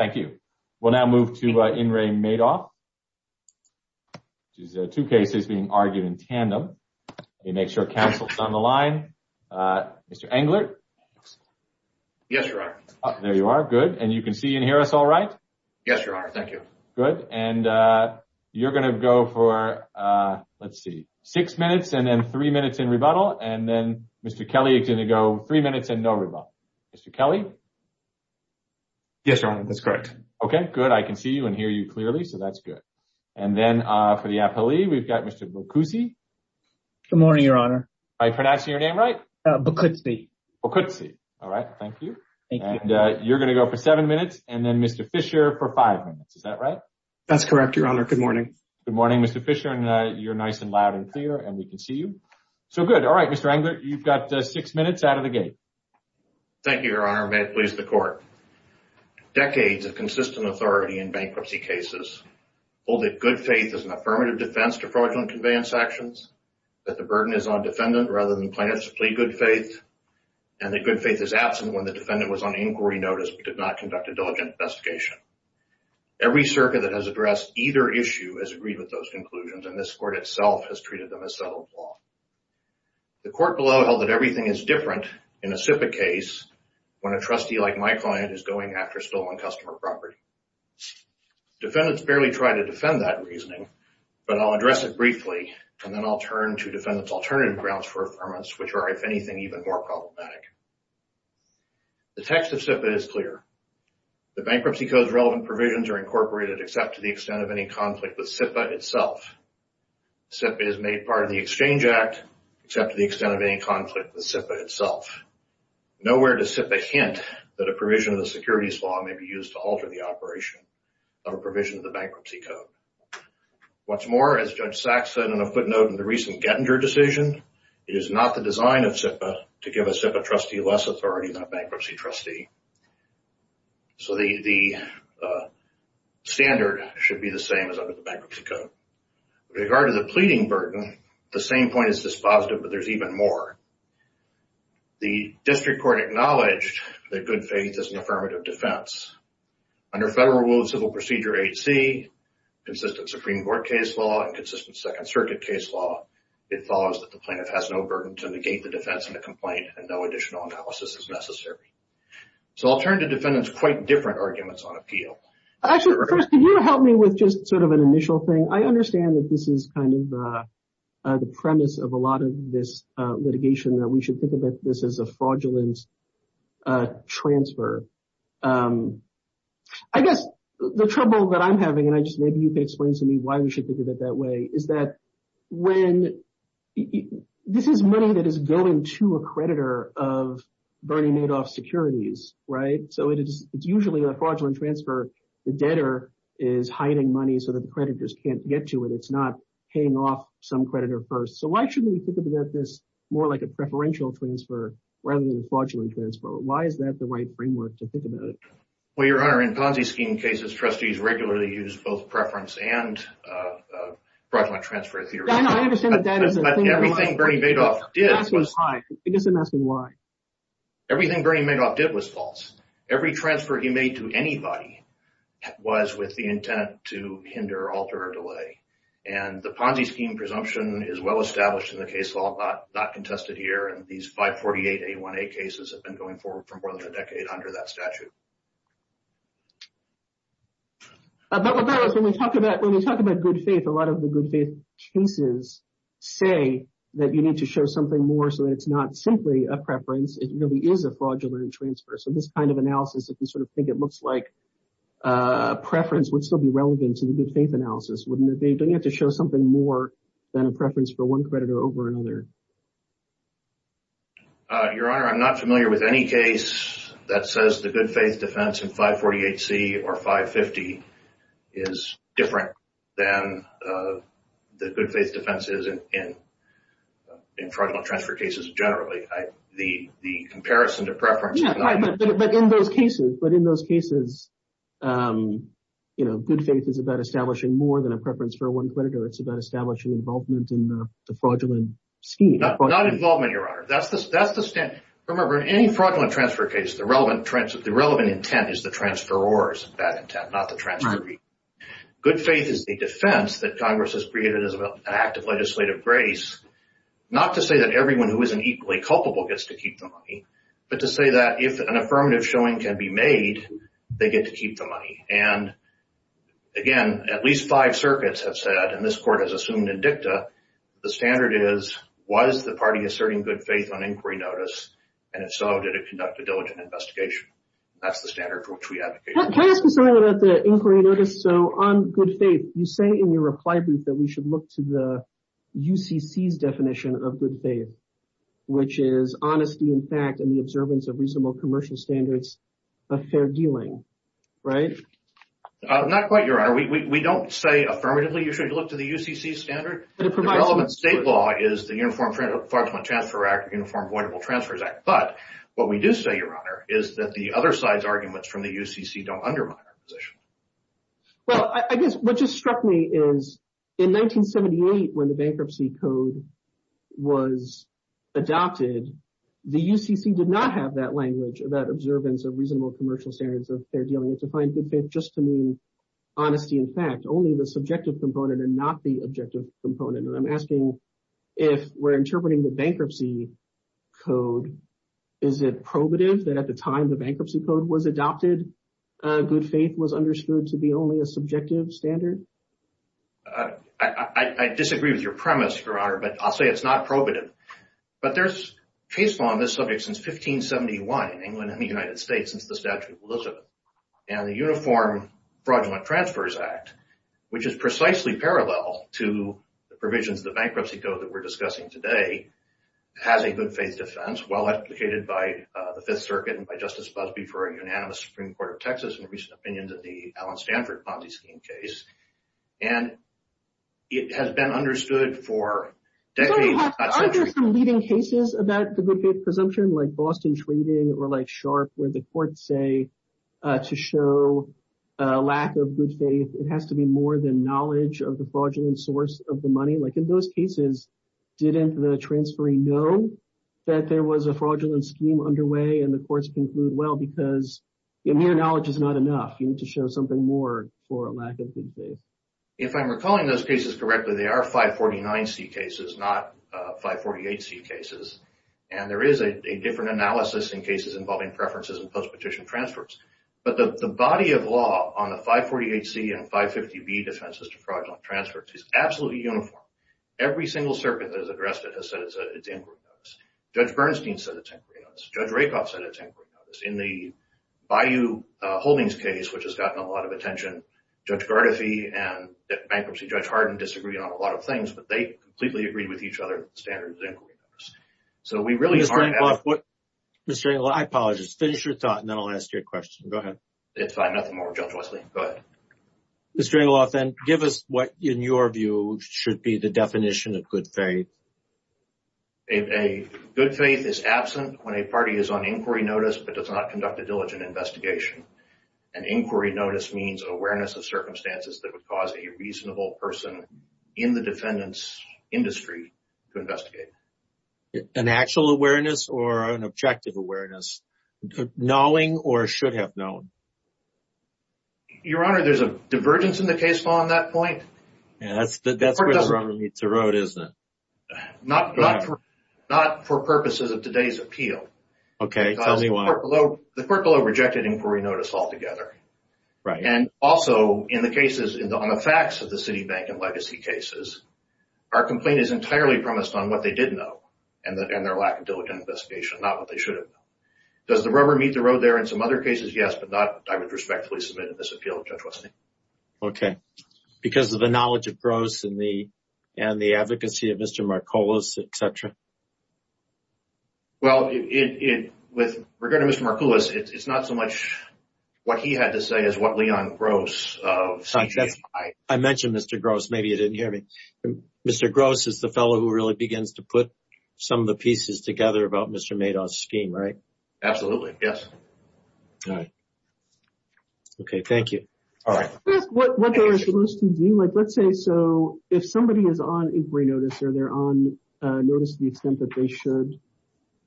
Mr. Englert, you can see and hear us all right, and you're going to go for six minutes and then three minutes in rebuttal, and then Mr. Kelly, you're going to go three minutes and no rebuttal. Mr. Kelly? Yes, Your Honor, that's correct. Okay, good. I can see you and hear you clearly, so that's good. And then for the appellee, we've got Mr. Bocuzzi. Good morning, Your Honor. Am I pronouncing your name right? Bocuzzi. Bocuzzi. All right. Thank you. Thank you. And you're going to go for seven minutes, and then Mr. Fisher for five minutes. Is that right? That's correct, Your Honor. Good morning. Good morning, Mr. Fisher, and you're nice and loud and clear, and we can see you. So good. All right, Mr. Englert, you've got six minutes out of the gate. Thank you, Your Honor. May it please the Court. Decades of consistent authority in bankruptcy cases hold that good faith is an affirmative defense to fraudulent conveyance actions, that the burden is on defendant rather than plaintiff's plea good faith, and that good faith is absent when the defendant was on inquiry notice but did not conduct a diligent investigation. Every circuit that has addressed either issue has agreed with those conclusions, and this Court itself has treated them as settled law. The Court below held that everything is different in a SIPA case when a trustee like my client is going after stolen customer property. Defendants barely try to defend that reasoning, but I'll address it briefly, and then I'll turn to defendant's alternative grounds for affirmance, which are, if anything, even more problematic. The text of SIPA is clear. The Bankruptcy Code's relevant provisions are incorporated except to the extent of any conflict with SIPA itself. SIPA is made part of the Exchange Act except to the extent of any conflict with SIPA itself. Nowhere does SIPA hint that a provision of the securities law may be used to alter the operation of a provision of the Bankruptcy Code. What's more, as Judge Sachs said in a footnote in the recent Gettinger decision, it is not the design of SIPA to give a SIPA trustee less authority than a bankruptcy trustee. So the standard should be the same as under the Bankruptcy Code. With regard to the pleading burden, the same point is dispositive, but there's even more. The District Court acknowledged that good faith is an affirmative defense. Under Federal Rule of Civil Procedure 8C, consistent Supreme Court case law and consistent Second Circuit case law, it follows that the plaintiff has no burden to negate the defense in a complaint and no additional analysis is necessary. So I'll turn to defendants' quite different arguments on appeal. Actually, first, can you help me with just sort of an initial thing? I understand that this is kind of the premise of a lot of this litigation, that we should think of this as a fraudulent transfer. I guess the trouble that I'm having, and maybe you can explain to me why we should think of it that way, is that this is money that is going to a creditor of Bernie Madoff Securities, right? So it's usually a fraudulent transfer. The debtor is hiding money so that the creditors can't get to it. It's not paying off some creditor first. So why shouldn't we think of this more like a preferential transfer rather than a fraudulent transfer? Why is that the right framework to think about it? Well, Your Honor, in Ponzi scheme cases, trustees regularly use both preference and fraudulent transfer theory. I understand that that is a thing. But everything Bernie Madoff did was false. Everything Bernie Madoff did was false. Every transfer he made to anybody was with the intent to hinder, alter, or delay. And the Ponzi scheme presumption is well established in the case law, not contested here. And these 548A1A cases have been going forward for more than a decade under that statute. But what that is, when we talk about good faith, a lot of the good faith cases say that you need to show something more so that it's not simply a preference. It really is a fraudulent transfer. So this kind of analysis, if you sort of think it looks like a preference would still be relevant to the good faith analysis, wouldn't it be? Don't you have to show something more than a preference for one creditor over another? Your Honor, I'm not familiar with any case that says the good faith defense in 548C or 550 is different than the good faith defenses in fraudulent transfer cases generally. The comparison to preference is not unique. But in those cases, good faith is about establishing more than a preference for one creditor. It's about establishing involvement in the fraudulent scheme. Not involvement, Your Honor. That's the standard. Remember, in any fraudulent transfer case, the relevant intent is the transferor's bad intent, not the transferee. Good faith is the defense that Congress has created as an act of legislative grace, not to say that everyone who isn't equally culpable gets to keep the money, but to say that if an affirmative showing can be made, they get to keep the money. And again, at least five circuits have said, and this Court has assumed in dicta, the standard is, was the party asserting good faith on inquiry notice? And if so, did it conduct a diligent investigation? That's the standard for which we advocate. Can I ask you something about the inquiry notice? So on good faith, you say in your reply brief that we should look to the UCC's definition of good faith, which is honesty in fact and the observance of reasonable commercial standards of fair dealing, right? Not quite, Your Honor. We don't say affirmatively you should look to the UCC standard. The relevant state law is the Uniform Fraudulent Transfer Act, Uniform Voidable Transfers Act. But what we do say, Your Honor, is that the other side's arguments from the UCC don't undermine our position. Well, I guess what just struck me is in 1978, when the bankruptcy code was adopted, the UCC did not have that language, that observance of reasonable commercial standards of fair dealing. It defined good faith just to mean honesty in fact, only the subjective component and not the objective component. And I'm asking if we're interpreting the bankruptcy code, is it probative that at the time the bankruptcy code was adopted, good faith was understood to be only a subjective standard? I disagree with your premise, Your Honor, but I'll say it's not probative. But there's case law on this subject since 1571 in England and the United States since the Statute of Elizabeth. And the Uniform Fraudulent Transfers Act, which is precisely parallel to the provisions of the bankruptcy code that we're discussing today, has a good faith defense, well-advocated by the Fifth Circuit and by Justice Busby for a unanimous Supreme Court of Texas in recent opinions in the Alan Stanford Ponzi scheme case. And it has been understood for decades. Aren't there some leading cases about the good faith presumption, like Boston Trading or like Sharp, where the courts say to show a lack of good faith, it has to be more than knowledge of the fraudulent source of the money? Like in those cases, didn't the transferee know that there was a fraudulent scheme underway and the courts conclude, well, because mere knowledge is not enough. You need to show something more for a lack of good faith. If I'm recalling those cases correctly, they are 549C cases, not 548C cases. And there is a different analysis in cases involving preferences and postpetition transfers. But the body of law on the 548C and 550B defenses to fraudulent transfers is absolutely uniform. Every single circuit that has addressed it has said it's inquiry notice. Judge Bernstein said it's inquiry notice. Judge Rakoff said it's inquiry notice. In the Bayou Holdings case, which has gotten a lot of attention, Judge Gardefee and bankruptcy judge Hardin disagreed on a lot of things, but they completely agreed with each other that the standard is inquiry notice. Mr. Engelhoff, I apologize. Finish your thought and then I'll ask your question. Go ahead. It's fine. Nothing more, Judge Wesley. Go ahead. Mr. Engelhoff, then, give us what, in your view, should be the definition of good faith. A good faith is absent when a party is on inquiry notice but does not conduct a diligent investigation. An inquiry notice means awareness of circumstances that would cause a reasonable person in the defendant's industry to investigate. An actual awareness or an objective awareness? Knowing or should have known? Your Honor, there's a divergence in the case law on that point. That's where the rubber meets the road, isn't it? Not for purposes of today's appeal. Okay. Tell me why. The court below rejected inquiry notice altogether. Right. And also, in the cases, on the facts of the Citibank and legacy cases, our complaint is entirely premised on what they did know and their lack of diligent investigation, not what they should have known. Does the rubber meet the road there in some other cases? Yes, but not, I would respectfully submit in this appeal, Judge Wesley. Okay. Because of the knowledge of Gross and the advocacy of Mr. Marcolos, et cetera? Well, with regard to Mr. Marcolos, it's not so much what he had to say as what Leon Gross of Citibank had to say. I mentioned Mr. Gross. Maybe you didn't hear me. Mr. Gross is the fellow who really begins to put some of the pieces together about Mr. Madoff's scheme, right? Absolutely. Yes. All right. Okay. Thank you. What they were supposed to do, like, let's say, so if somebody is on inquiry notice or they're on notice to the extent that they should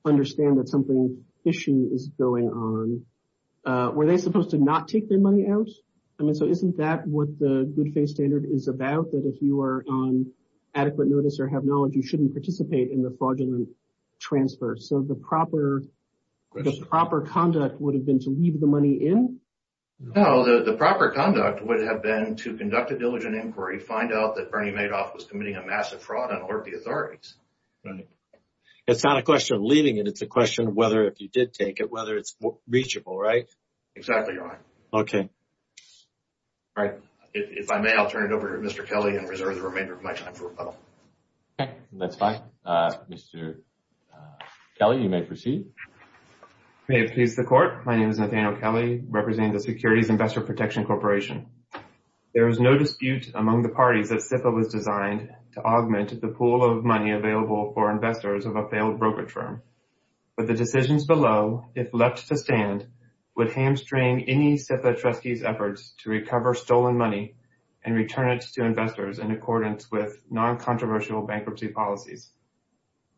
understand that something fishy is going on, were they supposed to not take their money out? I mean, so isn't that what the good faith standard is about, that if you are on adequate notice or have knowledge, you shouldn't participate in the fraudulent transfer? So the proper conduct would have been to leave the money in? No, the proper conduct would have been to conduct a diligent inquiry, find out that Bernie Madoff was committing a massive fraud and alert the authorities. It's not a question of leaving it. It's a question of whether if you did take it, whether it's reachable, right? Exactly right. Okay. All right. If I may, I'll turn it over to Mr. Kelly and reserve the remainder of my time for rebuttal. That's fine. Mr. Kelly, you may proceed. May it please the Court. My name is Nathaniel Kelly, representing the Securities Investor Protection Corporation. There is no dispute among the parties that CIFA was designed to augment the pool of money available for investors of a failed brokerage firm. But the decisions below, if left to stand, would hamstring any CIFA trustee's efforts to recover stolen money and return it to investors in accordance with non-controversial bankruptcy policies.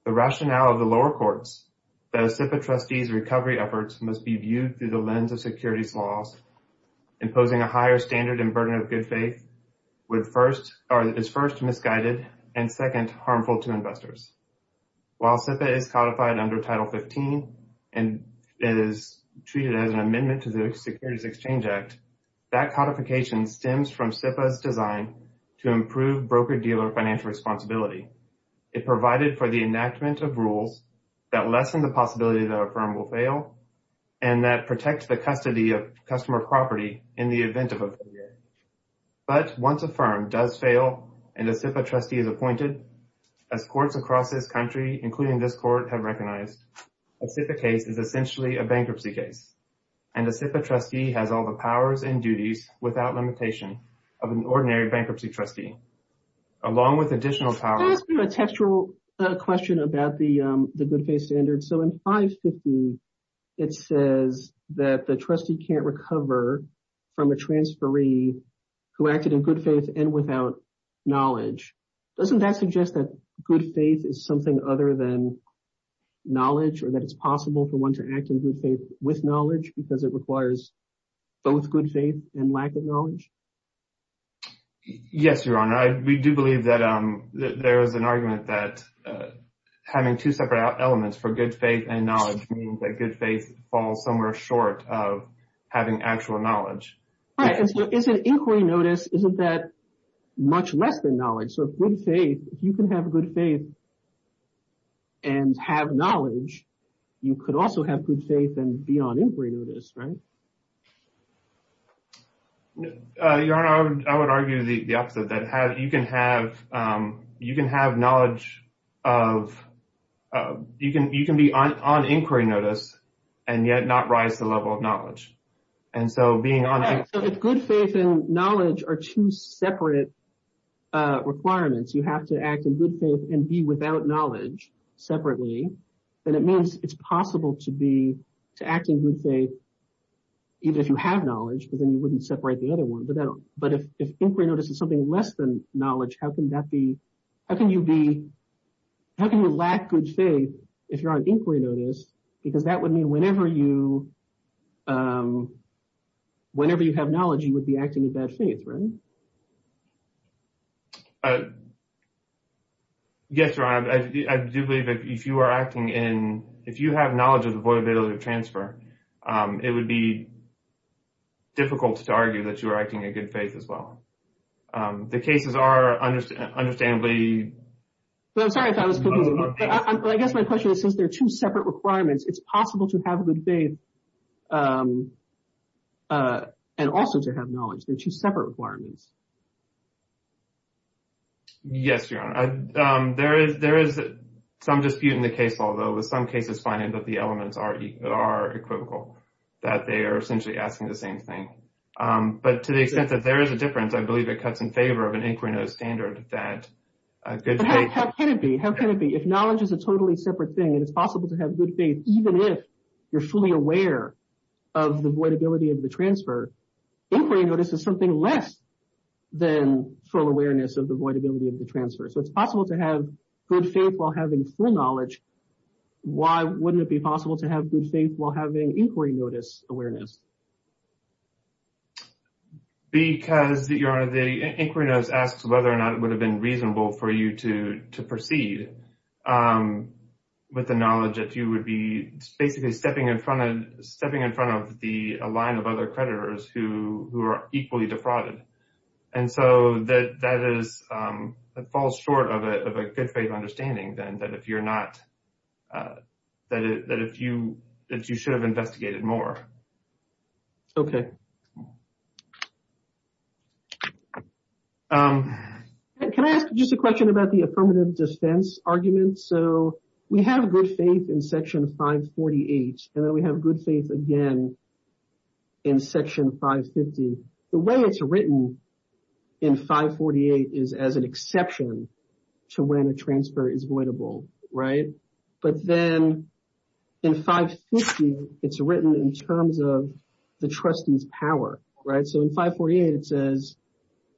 The rationale of the lower courts that a CIFA trustee's recovery efforts must be viewed through the lens of securities laws, imposing a higher standard and burden of good faith, is first misguided and, second, harmful to investors. While CIFA is codified under Title 15 and is treated as an amendment to the Securities Exchange Act, that codification stems from CIFA's design to improve broker-dealer financial responsibility. It provided for the enactment of rules that lessen the possibility that a firm will fail and that protect the custody of customer property in the event of a failure. But once a firm does fail and a CIFA trustee is appointed, as courts across this country, including this court, have recognized, a CIFA case is essentially a bankruptcy case. And a CIFA trustee has all the powers and duties, without limitation, of an ordinary bankruptcy trustee, along with additional powers. Can I ask you a textual question about the good faith standard? So in 550, it says that the trustee can't recover from a transferee who acted in good faith and without knowledge. Doesn't that suggest that good faith is something other than knowledge or that it's possible for one to act in good faith with knowledge because it requires both good faith and lack of knowledge? Yes, Your Honor. We do believe that there is an argument that having two separate elements for good faith and knowledge means that good faith falls somewhere short of having actual knowledge. Right. And so isn't inquiry notice, isn't that much less than knowledge? So if good faith, if you can have good faith and have knowledge, you could also have good faith and be on inquiry notice, right? Your Honor, I would argue the opposite, that you can have knowledge of, you can be on inquiry notice and yet not rise to the level of knowledge. So if good faith and knowledge are two separate requirements, you have to act in good faith and be without knowledge separately, then it means it's possible to act in good faith even if you have knowledge because then you wouldn't separate the other one. But if inquiry notice is something less than knowledge, how can you lack good faith if you're on inquiry notice? Because that would mean whenever you have knowledge, you would be acting in bad faith, right? Yes, Your Honor. I do believe that if you are acting in, if you have knowledge of the void availability of transfer, it would be difficult to argue that you are acting in good faith as well. The cases are understandably… I guess my question is since they're two separate requirements, it's possible to have good faith and also to have knowledge. They're two separate requirements. Yes, Your Honor. There is some dispute in the case law, though, with some cases finding that the elements are equivocal, that they are essentially asking the same thing. But to the extent that there is a difference, I believe it cuts in favor of an inquiry notice standard that good faith… How can it be? How can it be? If knowledge is a totally separate thing and it's possible to have good faith even if you're fully aware of the void ability of the transfer, inquiry notice is something less than full awareness of the void ability of the transfer. So it's possible to have good faith while having full knowledge. Why wouldn't it be possible to have good faith while having inquiry notice awareness? Because, Your Honor, the inquiry notice asks whether or not it would have been reasonable for you to proceed with the knowledge that you would be basically stepping in front of the line of other creditors who are equally defrauded. And so that falls short of a good faith understanding, then, that if you're not… that you should have investigated more. Okay. Can I ask just a question about the affirmative defense argument? So we have good faith in Section 548 and then we have good faith again in Section 550. The way it's written in 548 is as an exception to when a transfer is voidable, right? But then in 550, it's written in terms of the trustee's power, right? So in 548, it says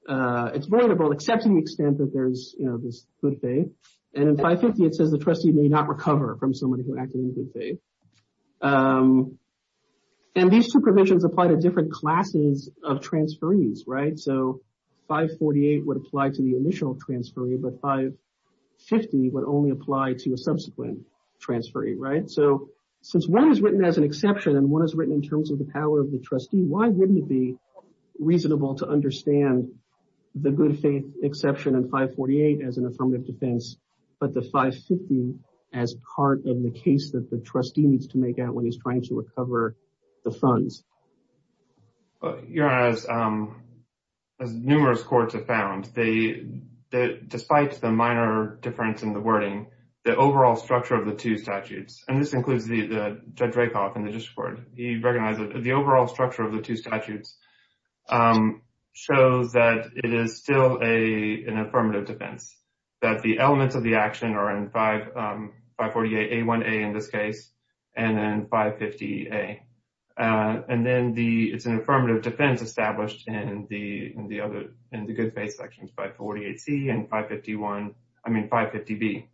it's voidable except to the extent that there's this good faith. And in 550, it says the trustee may not recover from somebody who acted in good faith. And these two provisions apply to different classes of transferees, right? So 548 would apply to the initial transferee, but 550 would only apply to a subsequent transferee, right? So since one is written as an exception and one is written in terms of the power of the trustee, why wouldn't it be reasonable to understand the good faith exception in 548 as an affirmative defense, but the 550 as part of the case that the trustee needs to make out when he's trying to recover the funds? Your Honor, as numerous courts have found, despite the minor difference in the wording, the overall structure of the two statutes, and this includes Judge Rakoff in the district court, he recognized that the overall structure of the two statutes shows that it is still an affirmative defense. That the elements of the action are in 548A1A in this case, and then 550A. And then it's an affirmative defense established in the good faith sections, 548C and 550B.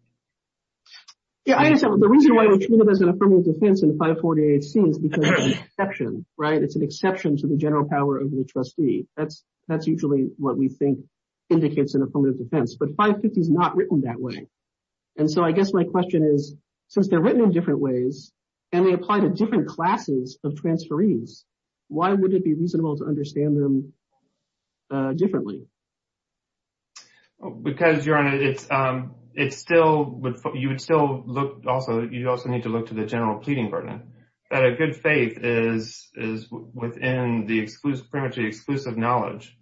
Yeah, I understand. The reason why we treat it as an affirmative defense in 548C is because it's an exception, right? It's an exception to the general power of the trustee. That's usually what we think indicates an affirmative defense, but 550 is not written that way. And so I guess my question is, since they're written in different ways and they apply to different classes of transferees, why would it be reasonable to understand them differently? Because, Your Honor, you would still need to look to the general pleading burden. That a good faith is within the exclusive knowledge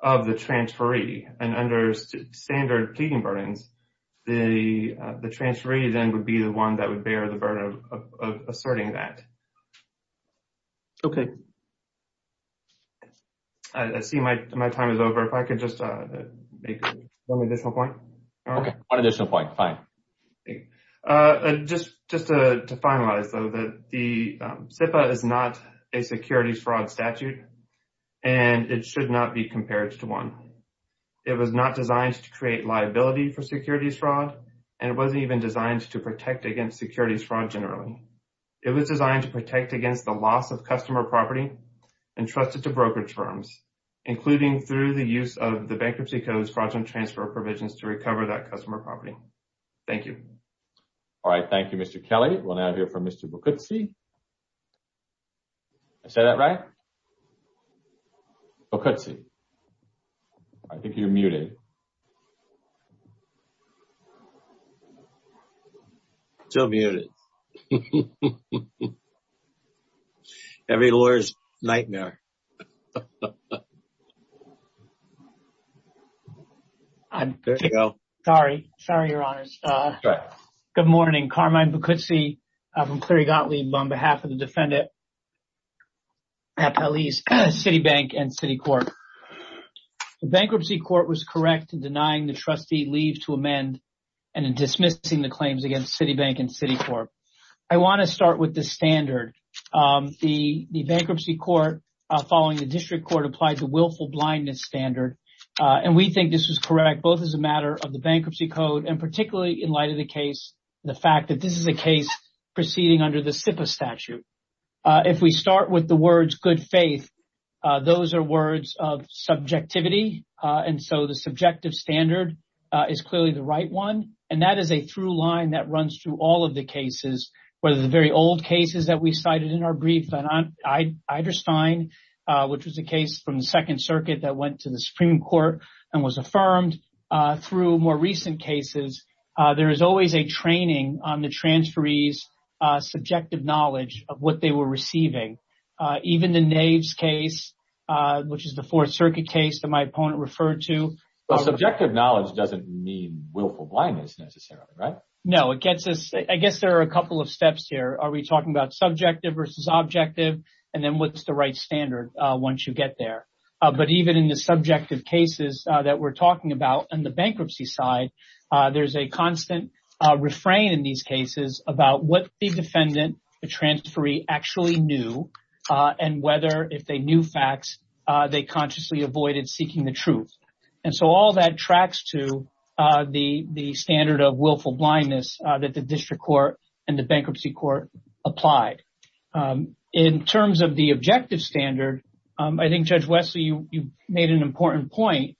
of the transferee, and under standard pleading burdens, the transferee then would be the one that would bear the burden of asserting that. Okay. I see my time is over. If I could just make one additional point. Okay. One additional point. Fine. Just to finalize, though, that the SIPA is not a securities fraud statute, and it should not be compared to one. It was not designed to create liability for securities fraud, and it wasn't even designed to protect against securities fraud generally. It was designed to protect against the loss of customer property entrusted to brokerage firms, including through the use of the Bankruptcy Code's fraudulent transfer provisions to recover that customer property. Thank you. All right. Thank you, Mr. Kelly. We'll now hear from Mr. Boccuzzi. Did I say that right? Boccuzzi, I think you're muted. Still muted. Every lawyer's nightmare. There you go. Sorry. Sorry, Your Honors. Good morning. Carmine Boccuzzi from Cleary Gottlieb on behalf of the defendant at Pelley's Citibank and Citicorp. The Bankruptcy Court was correct in denying the trustee leave to amend and in dismissing the claims against Citibank and Citicorp. I want to start with the standard. The Bankruptcy Court, following the District Court, applied the willful blindness standard, and we think this was correct, both as a matter of the Bankruptcy Code and particularly in light of the case, the fact that this is a case proceeding under the SIPA statute. If we start with the words good faith, those are words of subjectivity. And so the subjective standard is clearly the right one. And that is a through line that runs through all of the cases, whether the very old cases that we cited in our brief on Eiderstein, which was a case from the Second Circuit that went to the Supreme Court and was affirmed. Through more recent cases, there is always a training on the transferees' subjective knowledge of what they were receiving. Even the Naves case, which is the Fourth Circuit case that my opponent referred to. Well, subjective knowledge doesn't mean willful blindness necessarily, right? No, it gets us. I guess there are a couple of steps here. Are we talking about subjective versus objective? And then what's the right standard once you get there? But even in the subjective cases that we're talking about and the bankruptcy side, there's a constant refrain in these cases about what the defendant, the transferee, actually knew and whether, if they knew facts, they consciously avoided seeking the truth. And so all that tracks to the standard of willful blindness that the district court and the bankruptcy court applied. In terms of the objective standard, I think, Judge Wesley, you made an important point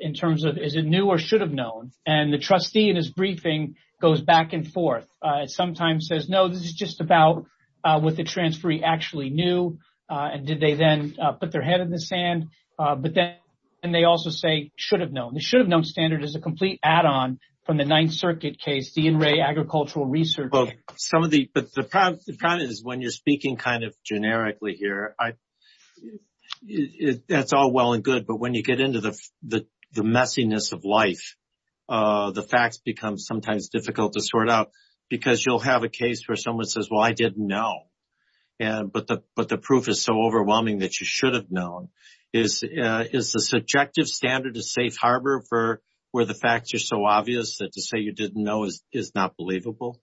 in terms of is it new or should have known. And the trustee in his briefing goes back and forth. It sometimes says, no, this is just about what the transferee actually knew. And did they then put their head in the sand? But then they also say should have known. The should have known standard is a complete add on from the Ninth Circuit case. But the problem is when you're speaking kind of generically here, that's all well and good. But when you get into the messiness of life, the facts become sometimes difficult to sort out because you'll have a case where someone says, well, I didn't know. But the proof is so overwhelming that you should have known. Is the subjective standard a safe harbor for where the facts are so obvious that to say you didn't know is not believable?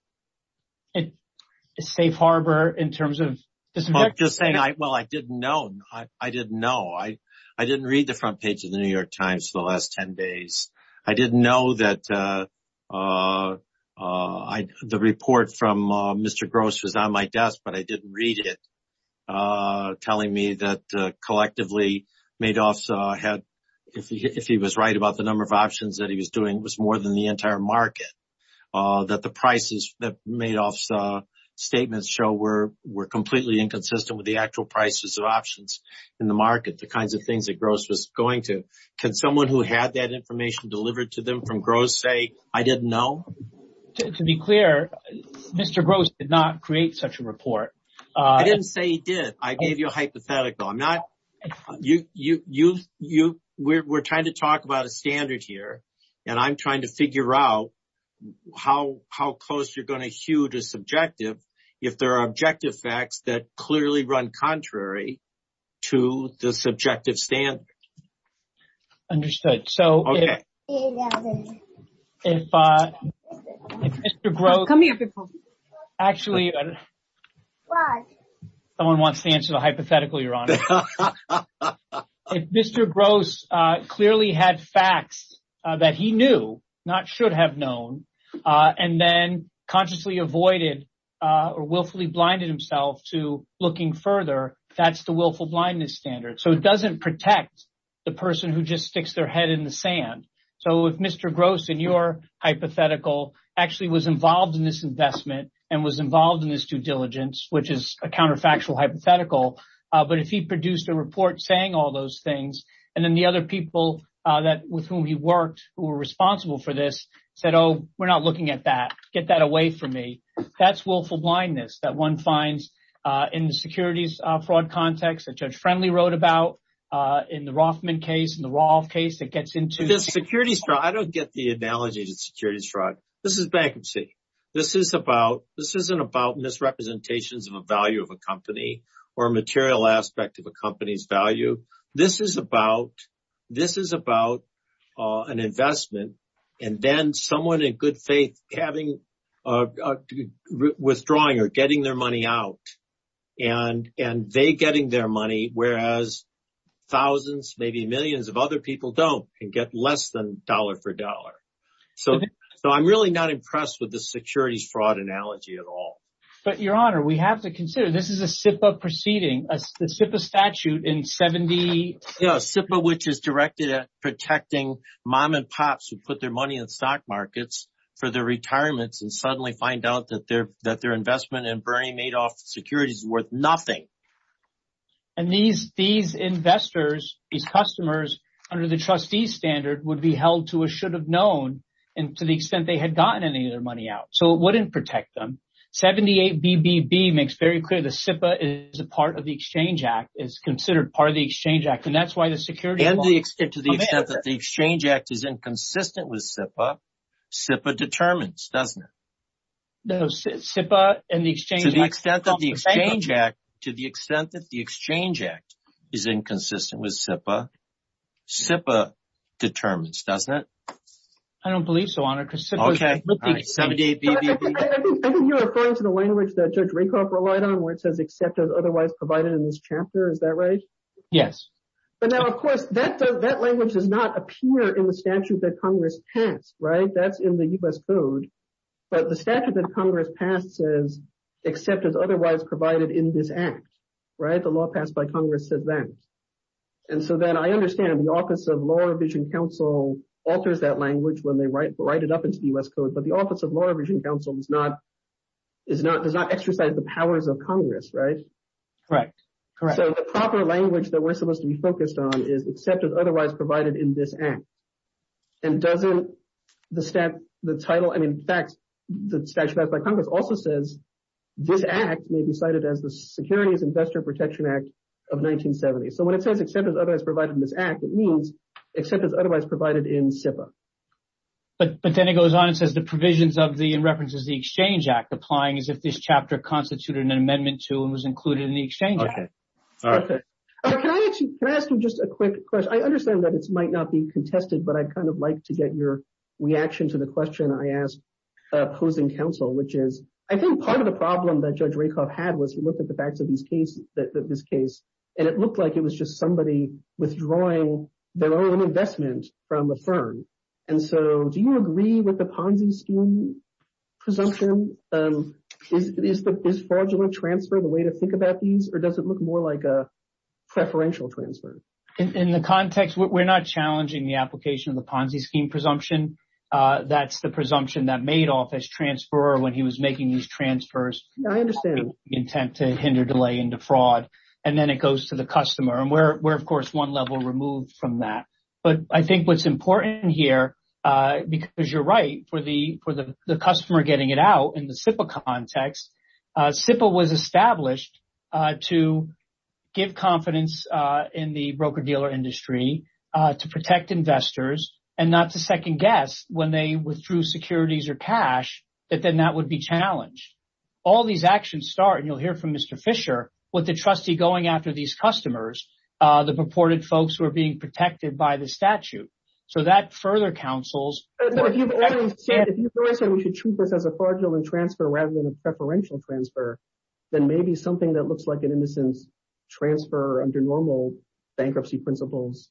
A safe harbor in terms of just saying, well, I didn't know. I didn't know. I didn't read the front page of The New York Times the last 10 days. I didn't know that the report from Mr. Gross was on my desk, but I did read it telling me that collectively Madoff's had, if he was right about the number of options that he was doing, was more than the entire market. That the prices that Madoff's statements show were completely inconsistent with the actual prices of options in the market, the kinds of things that Gross was going to. Can someone who had that information delivered to them from Gross say, I didn't know? To be clear, Mr. Gross did not create such a report. I didn't say he did. I gave you a hypothetical. We're trying to talk about a standard here, and I'm trying to figure out how close you're going to hue to subjective if there are objective facts that clearly run contrary to the subjective standard. Understood. So if Mr. Gross, actually, someone wants to answer the hypothetical, Your Honor. If Mr. Gross clearly had facts that he knew, not should have known, and then consciously avoided or willfully blinded himself to looking further, that's the willful blindness standard. So it doesn't protect the person who just sticks their head in the sand. So if Mr. Gross, in your hypothetical, actually was involved in this investment and was involved in this due diligence, which is a counterfactual hypothetical. But if he produced a report saying all those things, and then the other people with whom he worked who were responsible for this said, oh, we're not looking at that. Get that away from me. That's willful blindness that one finds in the securities fraud context that Judge Friendly wrote about. In the Rothman case, in the Roth case, it gets into the securities fraud. I don't get the analogy to securities fraud. This is bankruptcy. This isn't about misrepresentations of a value of a company or a material aspect of a company's value. This is about an investment and then someone in good faith withdrawing or getting their money out. And they getting their money, whereas thousands, maybe millions of other people don't and get less than dollar for dollar. So I'm really not impressed with the securities fraud analogy at all. But, Your Honor, we have to consider this is a SIPA proceeding, a SIPA statute in 70. SIPA, which is directed at protecting mom and pops who put their money in stock markets for their retirements and suddenly find out that their that their investment in Bernie Madoff securities is worth nothing. And these these investors, these customers under the trustee standard would be held to a should have known and to the extent they had gotten any of their money out. So it wouldn't protect them. Seventy eight BBB makes very clear the SIPA is a part of the Exchange Act is considered part of the Exchange Act. And that's why the security and the extent to the extent that the Exchange Act is inconsistent with SIPA SIPA determines, doesn't it? SIPA and the exchange to the extent that the Exchange Act to the extent that the Exchange Act is inconsistent with SIPA SIPA determines, doesn't it? I don't believe so, Your Honor. I think you're referring to the language that Judge Rakoff relied on where it says except as otherwise provided in this chapter. Is that right? Yes. But now, of course, that that language does not appear in the statute that Congress passed. Right. That's in the U.S. Code. But the statute that Congress passed says except as otherwise provided in this act. Right. The law passed by Congress said that. And so then I understand the Office of Law Revision Council alters that language when they write it up into the U.S. Code. But the Office of Law Revision Council is not is not does not exercise the powers of Congress. Right. Right. Correct. So the proper language that we're supposed to be focused on is except as otherwise provided in this act. And doesn't the stamp the title and in fact, the statute passed by Congress also says this act may be cited as the Securities Investor Protection Act of 1970. So when it says except as otherwise provided in this act, it means except as otherwise provided in SIPA. But then it goes on and says the provisions of the references, the Exchange Act applying as if this chapter constituted an amendment to and was included in the Exchange Act. Can I ask you just a quick question? I understand that it might not be contested, but I'd kind of like to get your reaction to the question I asked opposing counsel, which is I think part of the problem that Judge Rakoff had was look at the facts of this case that this case. And it looked like it was just somebody withdrawing their own investment from the firm. And so do you agree with the Ponzi scheme presumption? Is this fraudulent transfer the way to think about these or does it look more like a preferential transfer? In the context, we're not challenging the application of the Ponzi scheme presumption. That's the presumption that made office transfer when he was making these transfers. I understand the intent to hinder delay into fraud. And then it goes to the customer. And where we're, of course, one level removed from that. But I think what's important here, because you're right, for the for the customer getting it out in the SIPA context, SIPA was established to give confidence in the broker dealer industry to protect investors and not to second guess when they withdrew securities or cash that then that would be challenged. All these actions start and you'll hear from Mr. Fisher with the trustee going after these customers, the purported folks who are being protected by the statute. So that further counsels. If you've ever said we should treat this as a fraudulent transfer rather than a preferential transfer, then maybe something that looks like an innocence transfer under normal bankruptcy principles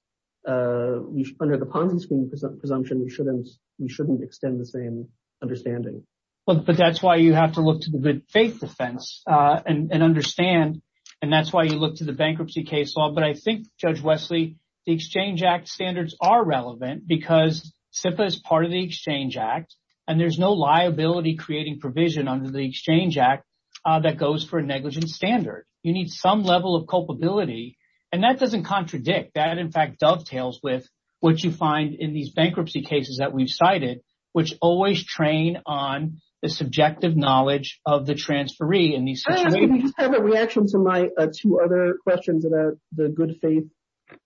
under the Ponzi scheme presumption, we shouldn't we shouldn't extend the same understanding. Well, but that's why you have to look to the good faith defense and understand. And that's why you look to the bankruptcy case law. But I think, Judge Wesley, the Exchange Act standards are relevant because SIPA is part of the Exchange Act. And there's no liability creating provision under the Exchange Act that goes for a negligent standard. You need some level of culpability. And that doesn't contradict that, in fact, dovetails with what you find in these bankruptcy cases that we've cited, which always train on the subjective knowledge of the transferee. I just have a reaction to my two other questions about the good faith,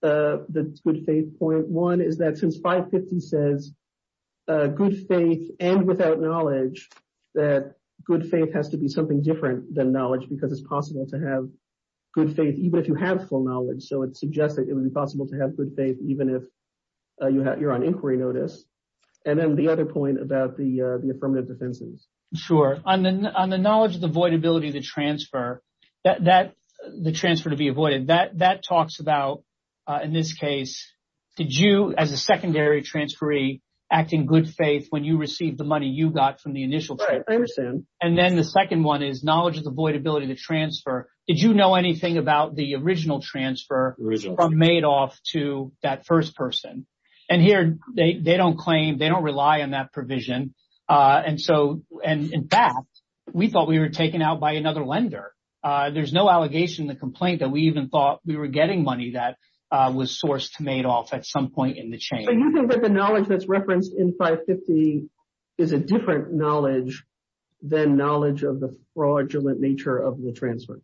the good faith point. One is that since 550 says good faith and without knowledge, that good faith has to be something different than knowledge because it's possible to have good faith, even if you have full knowledge. So it suggests that it would be possible to have good faith even if you're on inquiry notice. And then the other point about the affirmative defenses. Sure. On the knowledge of the void ability to transfer, the transfer to be avoided, that talks about, in this case, did you as a secondary transferee act in good faith when you received the money you got from the initial transfer? And then the second one is knowledge of the void ability to transfer. Did you know anything about the original transfer from Madoff to that first person? And here they don't claim, they don't rely on that provision. And so and in fact, we thought we were taken out by another lender. There's no allegation in the complaint that we even thought we were getting money that was sourced to Madoff at some point in the chain. So you think that the knowledge that's referenced in 550 is a different knowledge than knowledge of the fraudulent nature of the transfer?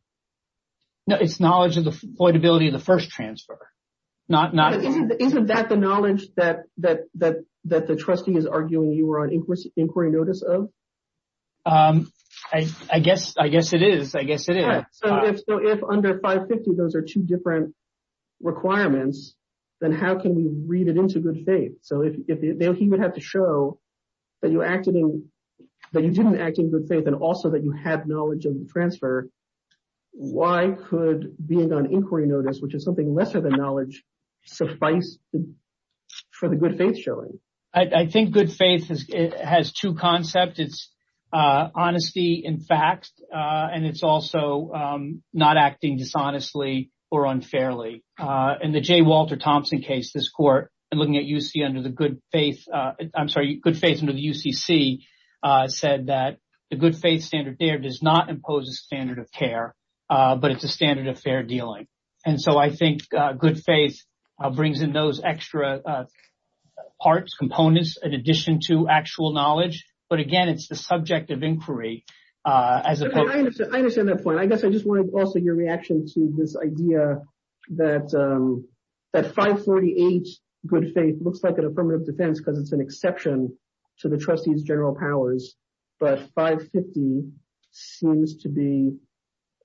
No, it's knowledge of the void ability of the first transfer. Isn't that the knowledge that the trustee is arguing you were on inquiry notice of? I guess it is. I guess it is. So if under 550, those are two different requirements, then how can we read it into good faith? So if he would have to show that you acted in that you didn't act in good faith and also that you have knowledge of the transfer. Why could being on inquiry notice, which is something lesser than knowledge, suffice for the good faith showing? I think good faith has two concepts. It's honesty in fact. And it's also not acting dishonestly or unfairly. And the J. Walter Thompson case, this court and looking at UC under the good faith. I'm sorry. Good faith under the UCC said that the good faith standard there does not impose a standard of care, but it's a standard of fair dealing. And so I think good faith brings in those extra parts, components, in addition to actual knowledge. But again, it's the subject of inquiry. I understand that point. I guess I just wanted also your reaction to this idea that that 548 good faith looks like an affirmative defense because it's an exception to the trustees general powers. But 550 seems to be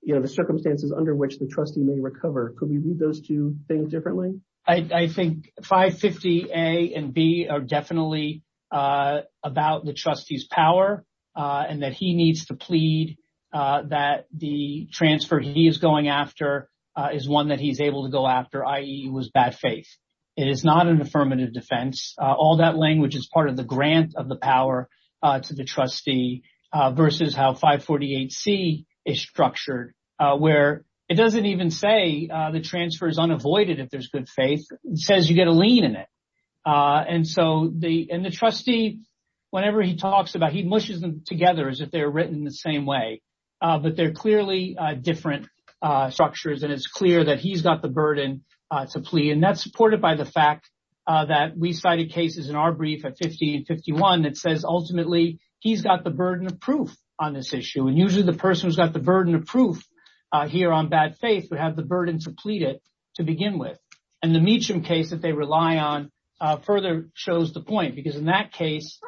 the circumstances under which the trustee may recover. Could we read those two things differently? I think 550 A and B are definitely about the trustee's power and that he needs to plead that the transfer he is going after is one that he's able to go after, i.e. was bad faith. It is not an affirmative defense. All that language is part of the grant of the power to the trustee versus how 548 C is structured, where it doesn't even say the transfer is unavoided if there's good faith. It says you get a lien in it. And so the and the trustee, whenever he talks about he mushes them together as if they're written the same way. But they're clearly different structures, and it's clear that he's got the burden to plead. And that's supported by the fact that we cited cases in our brief at 50 and 51 that says ultimately he's got the burden of proof on this issue. And usually the person who's got the burden of proof here on bad faith would have the burden to plead it to begin with. And the Meacham case that they rely on further shows the point, because in that case,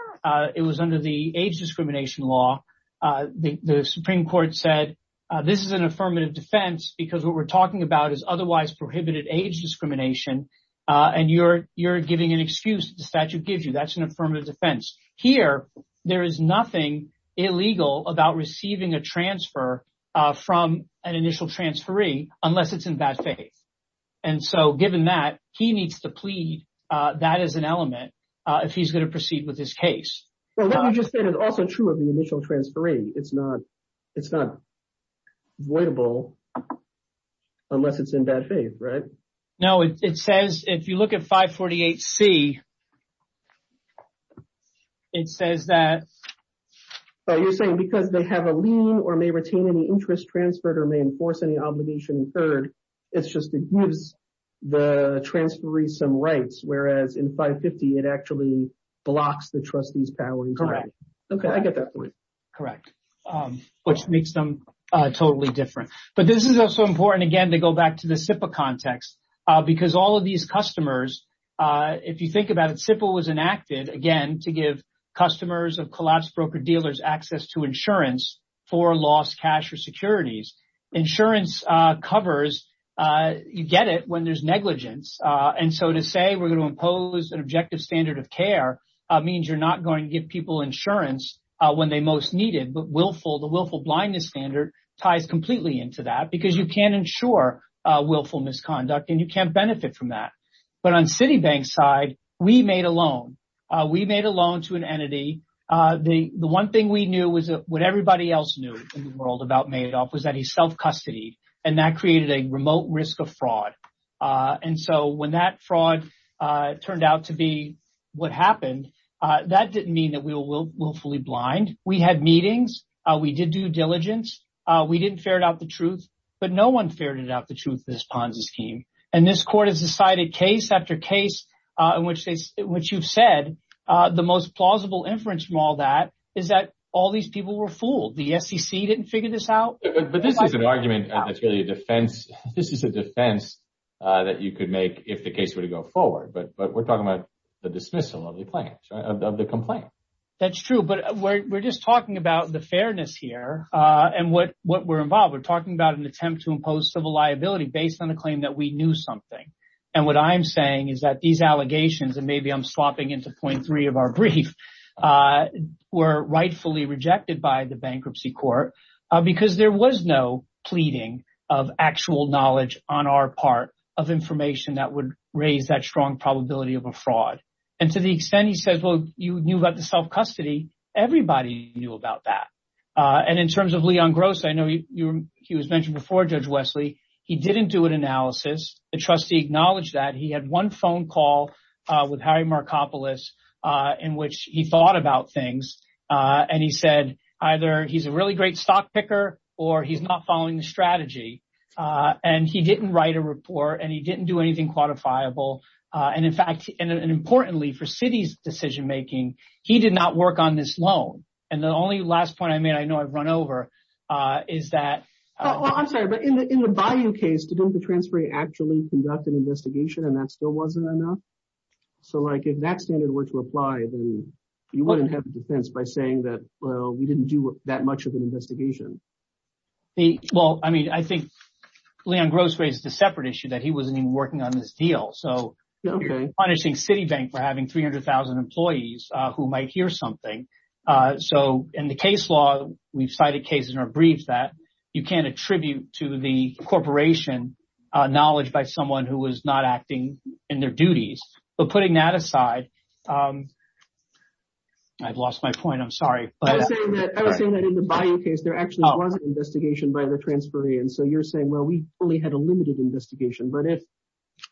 it was under the age discrimination law. The Supreme Court said this is an affirmative defense because what we're talking about is otherwise prohibited age discrimination. And you're you're giving an excuse. The statute gives you that's an affirmative defense here. There is nothing illegal about receiving a transfer from an initial transferee unless it's in bad faith. And so given that, he needs to plead that as an element if he's going to proceed with this case. Well, let me just say it is also true of the initial transferee. It's not it's not avoidable unless it's in bad faith. Right now, it says if you look at 548 C. It says that you're saying because they have a lien or may retain any interest transferred or may enforce any obligation. Third, it's just it gives the transferee some rights, whereas in 550, it actually blocks the trustee's power. Correct. OK, I get that point. Correct. Which makes them totally different. But this is also important, again, to go back to the SIPA context, because all of these customers, if you think about it, SIPA was enacted again to give customers of collapsed broker dealers access to insurance for lost cash or securities. Insurance covers. You get it when there's negligence. And so to say we're going to impose an objective standard of care means you're not going to give people insurance when they most need it. But willful the willful blindness standard ties completely into that because you can't ensure willful misconduct and you can't benefit from that. But on Citibank side, we made a loan. We made a loan to an entity. The one thing we knew was what everybody else knew in the world about Madoff was that he self-custodied and that created a remote risk of fraud. And so when that fraud turned out to be what happened, that didn't mean that we will willfully blind. We had meetings. We did due diligence. We didn't ferret out the truth. But no one ferreted out the truth in this Ponzi scheme. And this court has decided case after case in which what you've said, the most plausible inference from all that is that all these people were fooled. The SEC didn't figure this out. But this is an argument. That's really a defense. This is a defense that you could make if the case were to go forward. But but we're talking about the dismissal of the complaint. That's true. But we're just talking about the fairness here and what what we're involved with, talking about an attempt to impose civil liability based on the claim that we knew something. And what I'm saying is that these allegations and maybe I'm swapping into point three of our brief were rightfully rejected by the bankruptcy court because there was no pleading of actual knowledge on our part of information that would raise that strong probability of a fraud. And to the extent he says, well, you knew about the self-custody. Everybody knew about that. And in terms of Leon Gross, I know he was mentioned before Judge Wesley. He didn't do an analysis. The trustee acknowledged that he had one phone call with Harry Markopoulos in which he thought about things. And he said either he's a really great stock picker or he's not following the strategy. And he didn't write a report and he didn't do anything quantifiable. And in fact, and importantly for city's decision making, he did not work on this loan. And the only last point I made, I know I've run over, is that I'm sorry, but in the value case, didn't the transferee actually conduct an investigation and that still wasn't enough? So like if that standard were to apply, then you wouldn't have defense by saying that, well, we didn't do that much of an investigation. Well, I mean, I think Leon Gross raised a separate issue that he wasn't even working on this deal. So you're punishing Citibank for having 300,000 employees who might hear something. So in the case law, we've cited cases in our briefs that you can't attribute to the corporation knowledge by someone who is not acting in their duties. But putting that aside, I've lost my point. I'm sorry. I would say that in the Bayou case, there actually was an investigation by the transferee. And so you're saying, well, we only had a limited investigation. But if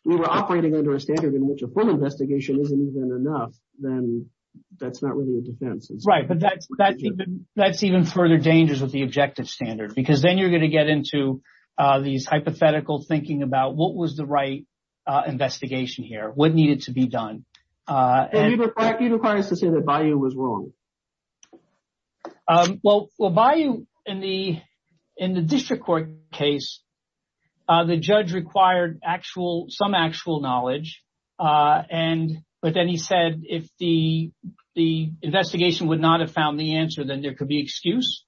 we were operating under a standard in which a full investigation isn't even enough, then that's not really a defense. Right. But that's that's even further dangerous with the objective standard, because then you're going to get into these hypothetical thinking about what was the right investigation here, what needed to be done. And you require us to say that Bayou was wrong. Well, well, Bayou in the in the district court case, the judge required actual some actual knowledge. And but then he said, if the the investigation would not have found the answer, then there could be excuse.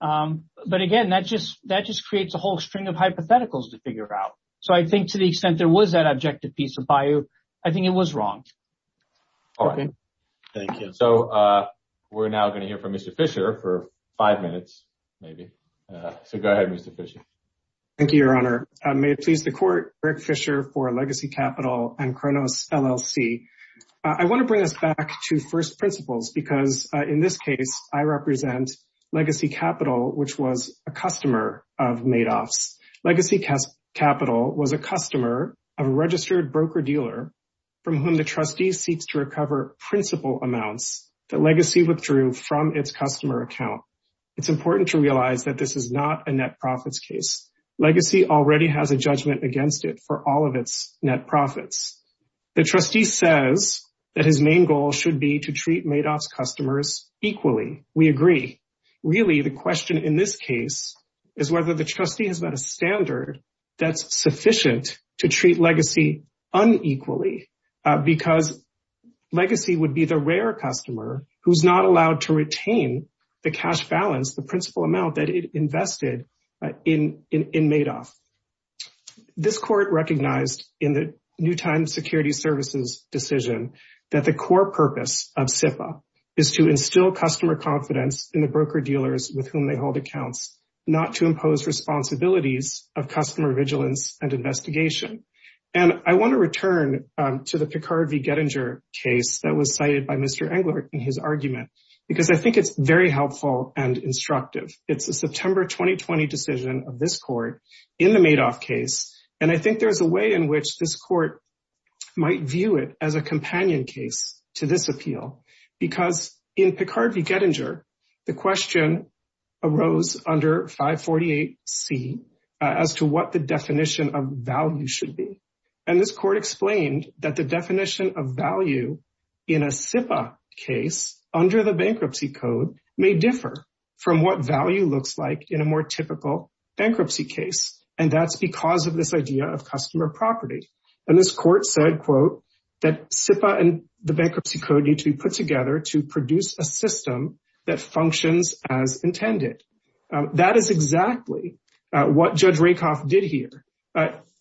But again, that just that just creates a whole string of hypotheticals to figure out. So I think to the extent there was that objective piece of Bayou, I think it was wrong. All right. Thank you. So we're now going to hear from Mr. Fisher for five minutes, maybe. So go ahead, Mr. Fisher. Thank you, Your Honor. May it please the court. Eric Fisher for Legacy Capital and Kronos LLC. I want to bring us back to first principles, because in this case, I represent Legacy Capital, which was a customer of Madoff's. Legacy Capital was a customer of a registered broker dealer from whom the trustee seeks to recover principal amounts that Legacy withdrew from its customer account. It's important to realize that this is not a net profits case. Legacy already has a judgment against it for all of its net profits. The trustee says that his main goal should be to treat Madoff's customers equally. We agree. Really, the question in this case is whether the trustee has met a standard that's sufficient to treat Legacy unequally, because Legacy would be the rare customer who's not allowed to retain the cash balance, the principal amount that it invested in in Madoff. This court recognized in the New Time Security Services decision that the core purpose of SIPA is to instill customer confidence in the broker dealers with whom they hold accounts, not to impose responsibilities of customer vigilance and investigation. And I want to return to the Picard v. Gettinger case that was cited by Mr. Engler in his argument, because I think it's very helpful and instructive. It's a September 2020 decision of this court in the Madoff case. And I think there's a way in which this court might view it as a companion case to this appeal, because in Picard v. Gettinger, the question arose under 548C as to what the definition of value should be. And this court explained that the definition of value in a SIPA case under the bankruptcy code may differ from what value looks like in a more typical bankruptcy case. And that's because of this idea of customer property. And this court said, quote, that SIPA and the bankruptcy code need to be put together to produce a system that functions as intended. That is exactly what Judge Rakoff did here.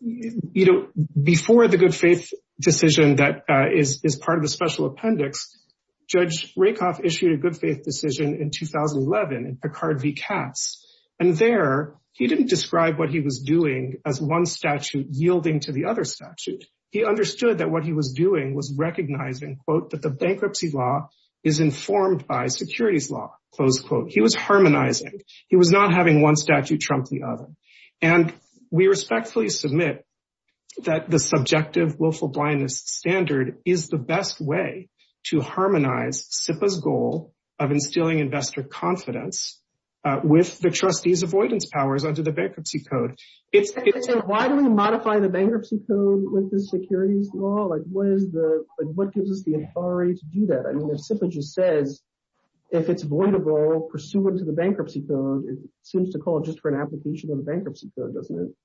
Before the good faith decision that is part of the special appendix, Judge Rakoff issued a good faith decision in 2011 in Picard v. Cass. And there, he didn't describe what he was doing as one statute yielding to the other statute. He understood that what he was doing was recognizing, quote, that the bankruptcy law is informed by securities law, close quote. He was harmonizing. He was not having one statute trump the other. And we respectfully submit that the subjective willful blindness standard is the best way to harmonize SIPA's goal of instilling investor confidence with the trustee's avoidance powers under the bankruptcy code. Why do we modify the bankruptcy code with the securities law? What gives us the authority to do that? I mean, if SIPA just says, if it's avoidable pursuant to the bankruptcy code, it seems to call just for an application of the bankruptcy code, doesn't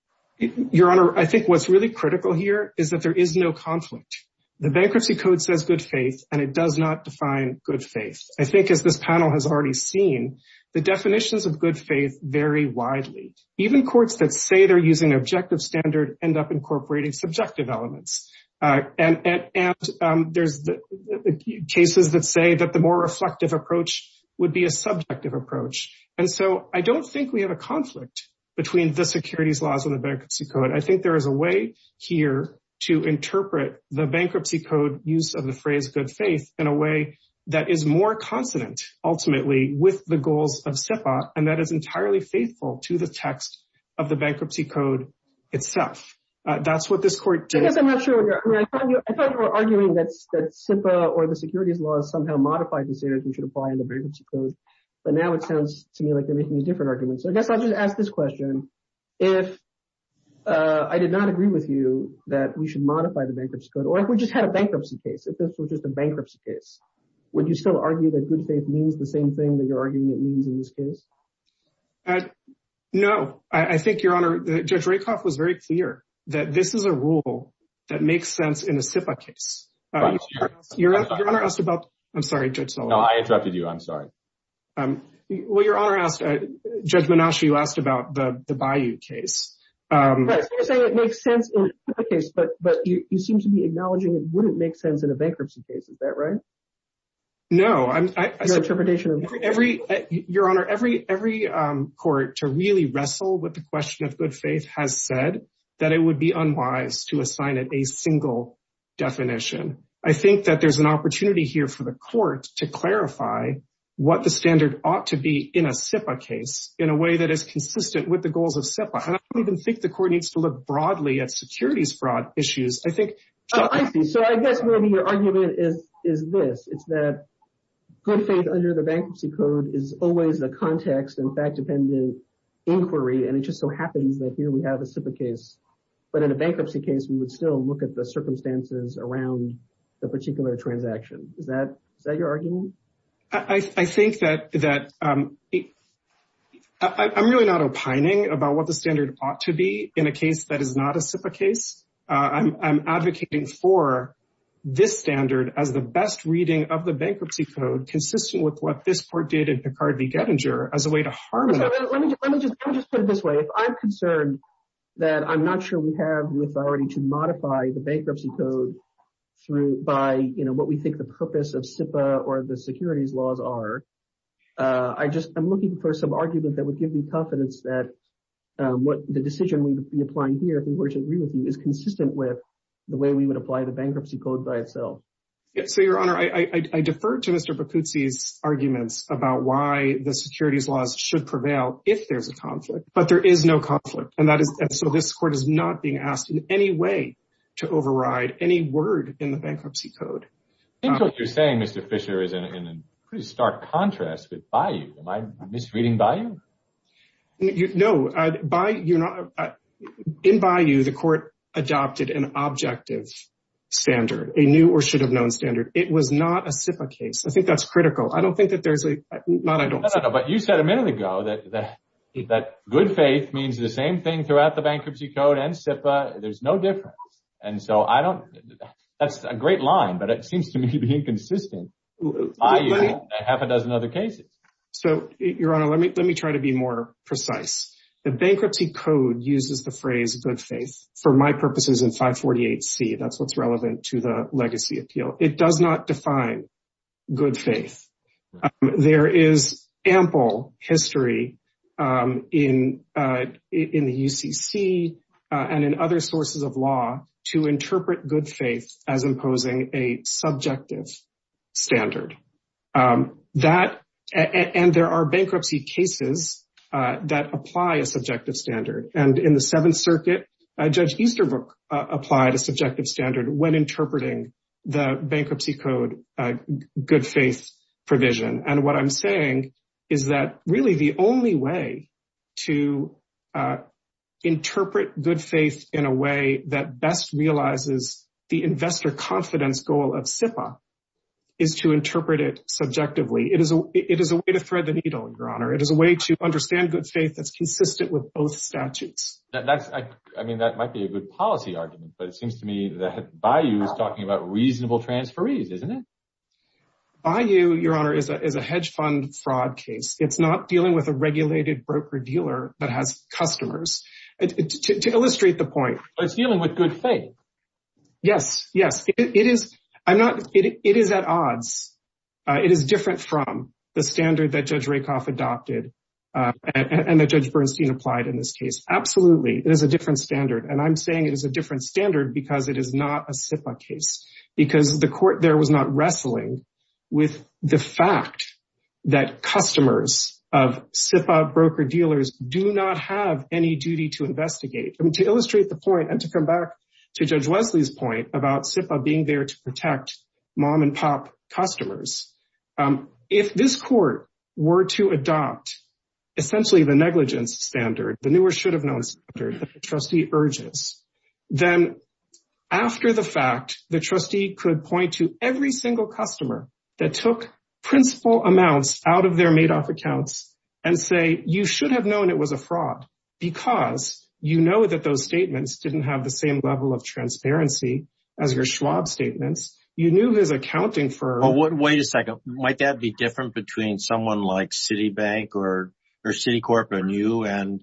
it? Your Honor, I think what's really critical here is that there is no conflict. The bankruptcy code says good faith, and it does not define good faith. I think as this panel has already seen, the definitions of good faith vary widely. Even courts that say they're using objective standard end up incorporating subjective elements. And there's cases that say that the more reflective approach would be a subjective approach. And so I don't think we have a conflict between the securities laws and the bankruptcy code. I think there is a way here to interpret the bankruptcy code use of the phrase good faith in a way that is more consonant, ultimately, with the goals of SIPA, and that is entirely faithful to the text of the bankruptcy code itself. That's what this court did. I guess I'm not sure. I thought you were arguing that SIPA or the securities laws somehow modify the standards we should apply in the bankruptcy code. But now it sounds to me like they're making a different argument. So I guess I'll just ask this question. If I did not agree with you that we should modify the bankruptcy code, or if we just had a bankruptcy case, if this were just a bankruptcy case, would you still argue that good faith means the same thing that you're arguing it means in this case? No, I think, Your Honor, Judge Rakoff was very clear that this is a rule that makes sense in a SIPA case. I'm sorry, Judge Sullivan. No, I interrupted you. I'm sorry. Well, Your Honor, Judge Menashe, you asked about the Bayou case. You're saying it makes sense in a SIPA case, but you seem to be acknowledging it wouldn't make sense in a bankruptcy case. Is that right? No, Your Honor, every court to really wrestle with the question of good faith has said that it would be unwise to assign it a single definition. I think that there's an opportunity here for the court to clarify what the standard ought to be in a SIPA case in a way that is consistent with the goals of SIPA. And I don't even think the court needs to look broadly at securities fraud issues. Oh, I see. So I guess maybe your argument is this. It's that good faith under the bankruptcy code is always the context and fact-dependent inquiry. And it just so happens that here we have a SIPA case. But in a bankruptcy case, we would still look at the circumstances around the particular transaction. Is that your argument? I think that I'm really not opining about what the standard ought to be in a case that is not a SIPA case. I'm advocating for this standard as the best reading of the bankruptcy code, consistent with what this court did in Picard v. Gettinger as a way to harmonize. Let me just put it this way. If I'm concerned that I'm not sure we have the authority to modify the bankruptcy code by what we think the purpose of SIPA or the securities laws are, I'm looking for some argument that would give me confidence that the decision we would be applying here, if we were to agree with you, is consistent with the way we would apply the bankruptcy code by itself. So, Your Honor, I defer to Mr. Bacuzzi's arguments about why the securities laws should prevail if there's a conflict. But there is no conflict. And so this court is not being asked in any way to override any word in the bankruptcy code. I think what you're saying, Mr. Fisher, is in a pretty stark contrast with Bayou. Am I misreading Bayou? No. In Bayou, the court adopted an objective standard, a new or should have known standard. It was not a SIPA case. I think that's critical. I don't think that there's a... No, no, no. But you said a minute ago that good faith means the same thing throughout the bankruptcy code and SIPA. There's no difference. And so I don't... That's a great line, but it seems to me to be inconsistent. That happened as in other cases. So, Your Honor, let me try to be more precise. The bankruptcy code uses the phrase good faith for my purposes in 548C. That's what's relevant to the legacy appeal. It does not define good faith. There is ample history in the UCC and in other sources of law to interpret good faith as imposing a subjective standard. And there are bankruptcy cases that apply a subjective standard. And in the Seventh Circuit, Judge Easterbrook applied a subjective standard when interpreting the bankruptcy code good faith provision. And what I'm saying is that really the only way to interpret good faith in a way that best realizes the investor confidence goal of SIPA is to interpret it subjectively. It is a way to thread the needle, Your Honor. It is a way to understand good faith that's consistent with both statutes. I mean, that might be a good policy argument, but it seems to me that Bayou is talking about reasonable transferees, isn't it? Bayou, Your Honor, is a hedge fund fraud case. It's not dealing with a regulated broker dealer that has customers. To illustrate the point. It's dealing with good faith. Yes, yes. It is at odds. It is different from the standard that Judge Rakoff adopted and that Judge Bernstein applied in this case. Absolutely. It is a different standard. And I'm saying it is a different standard because it is not a SIPA case. Because the court there was not wrestling with the fact that customers of SIPA broker dealers do not have any duty to investigate. To illustrate the point and to come back to Judge Wesley's point about SIPA being there to protect mom and pop customers. If this court were to adopt essentially the negligence standard, the newer should have known standard that the trustee urges, then after the fact, the trustee could point to every single customer that took principal amounts out of their Madoff accounts and say, you should have known it was a fraud because you know that those statements didn't have the same level of transparency as your Schwab statements. Wait a second. Might that be different between someone like Citibank or Citicorp and you and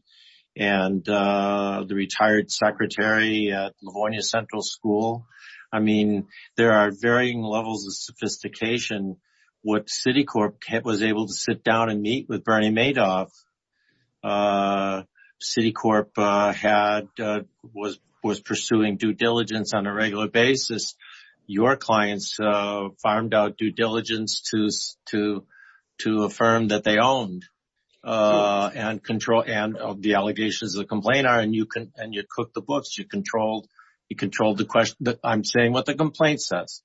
the retired secretary at Livonia Central School? I mean, there are varying levels of sophistication. What Citicorp was able to sit down and meet with Bernie Madoff, Citicorp was pursuing due diligence on a regular basis. Your clients farmed out due diligence to a firm that they owned and the allegations of the complaint are. And you cook the books. You controlled the question. I'm saying what the complaint says.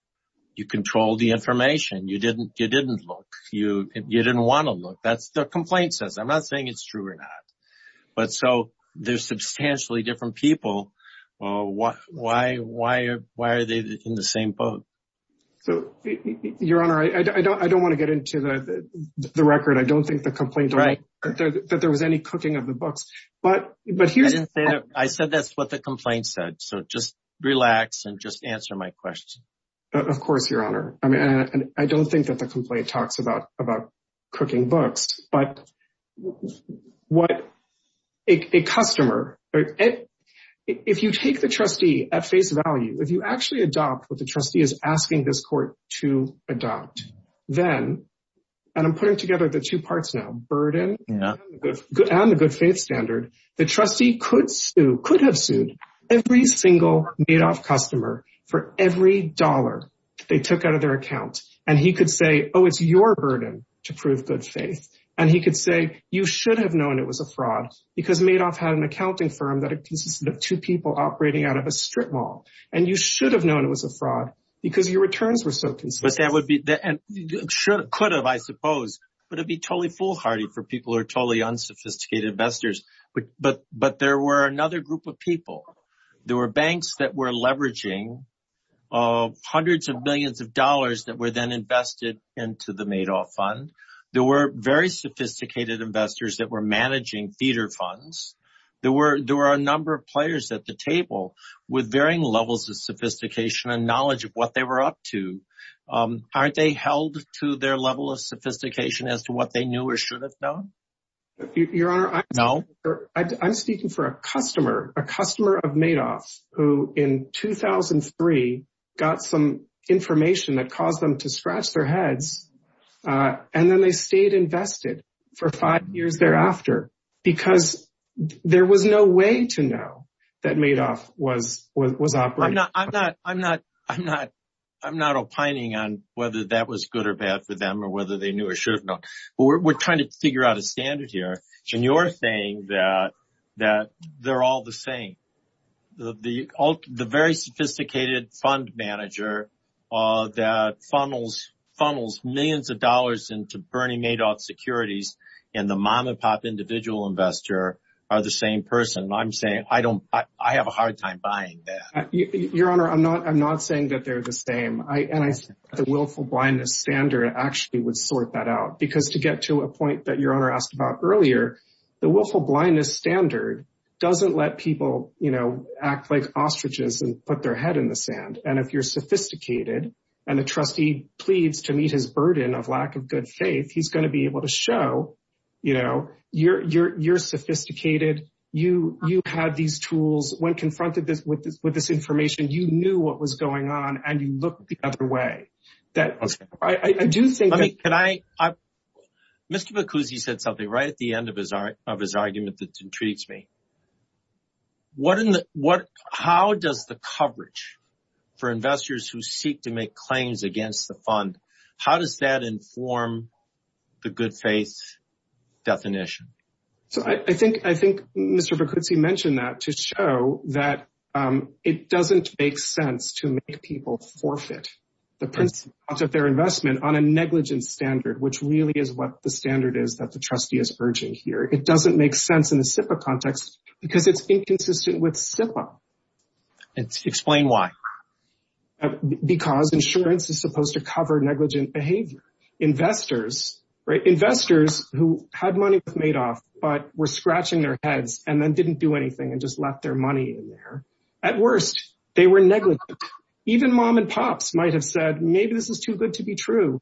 You control the information. You didn't look. You didn't want to look. That's the complaint says. I'm not saying it's true or not. But so there's substantially different people. Why? Why? Why? Why are they in the same boat? So, Your Honor, I don't want to get into the record. I don't think the complaint that there was any cooking of the books. But I said that's what the complaint said. So just relax and just answer my question. Of course, Your Honor. I mean, I don't think that the complaint talks about about cooking books. But what a customer. If you take the trustee at face value, if you actually adopt what the trustee is asking this court to adopt, then. And I'm putting together the two parts now. Burden and the good faith standard. The trustee could sue, could have sued every single Madoff customer for every dollar they took out of their account. And he could say, oh, it's your burden to prove good faith. And he could say, you should have known it was a fraud because Madoff had an accounting firm that consisted of two people operating out of a strip mall. And you should have known it was a fraud because your returns were so consistent. That would be and could have, I suppose. But it'd be totally foolhardy for people who are totally unsophisticated investors. But but but there were another group of people. There were banks that were leveraging hundreds of millions of dollars that were then invested into the Madoff fund. There were very sophisticated investors that were managing theater funds. There were there were a number of players at the table with varying levels of sophistication and knowledge of what they were up to. Aren't they held to their level of sophistication as to what they knew or should have done? Your Honor, I know I'm speaking for a customer, a customer of Madoff, who in 2003 got some information that caused them to scratch their heads. And then they stayed invested for five years thereafter because there was no way to know that Madoff was was operating. I'm not I'm not I'm not I'm not opining on whether that was good or bad for them or whether they knew or should have known. But we're trying to figure out a standard here. And you're saying that that they're all the same. The the the very sophisticated fund manager that funnels funnels millions of dollars into Bernie Madoff securities and the mom and pop individual investor are the same person. I'm saying I don't I have a hard time buying that. Your Honor, I'm not I'm not saying that they're the same. The willful blindness standard actually would sort that out, because to get to a point that your honor asked about earlier, the willful blindness standard doesn't let people, you know, act like ostriches and put their head in the sand. And if you're sophisticated and the trustee pleads to meet his burden of lack of good faith, he's going to be able to show, you know, you're you're you're sophisticated. You you have these tools when confronted with this with this information. You knew what was going on and you look the other way. That I do think. Can I. Mr. Because he said something right at the end of his of his argument that intrigues me. What in the what how does the coverage for investors who seek to make claims against the fund, how does that inform the good faith definition? So I think I think Mr. Bacuzzi mentioned that to show that it doesn't make sense to make people forfeit the price of their investment on a negligent standard, which really is what the standard is that the trustee is urging here. It doesn't make sense in the SIPA context because it's inconsistent with SIPA. And explain why. Because insurance is supposed to cover negligent behavior. Investors who had money made off, but were scratching their heads and then didn't do anything and just left their money in there. At worst, they were negligent. Even mom and pops might have said, maybe this is too good to be true.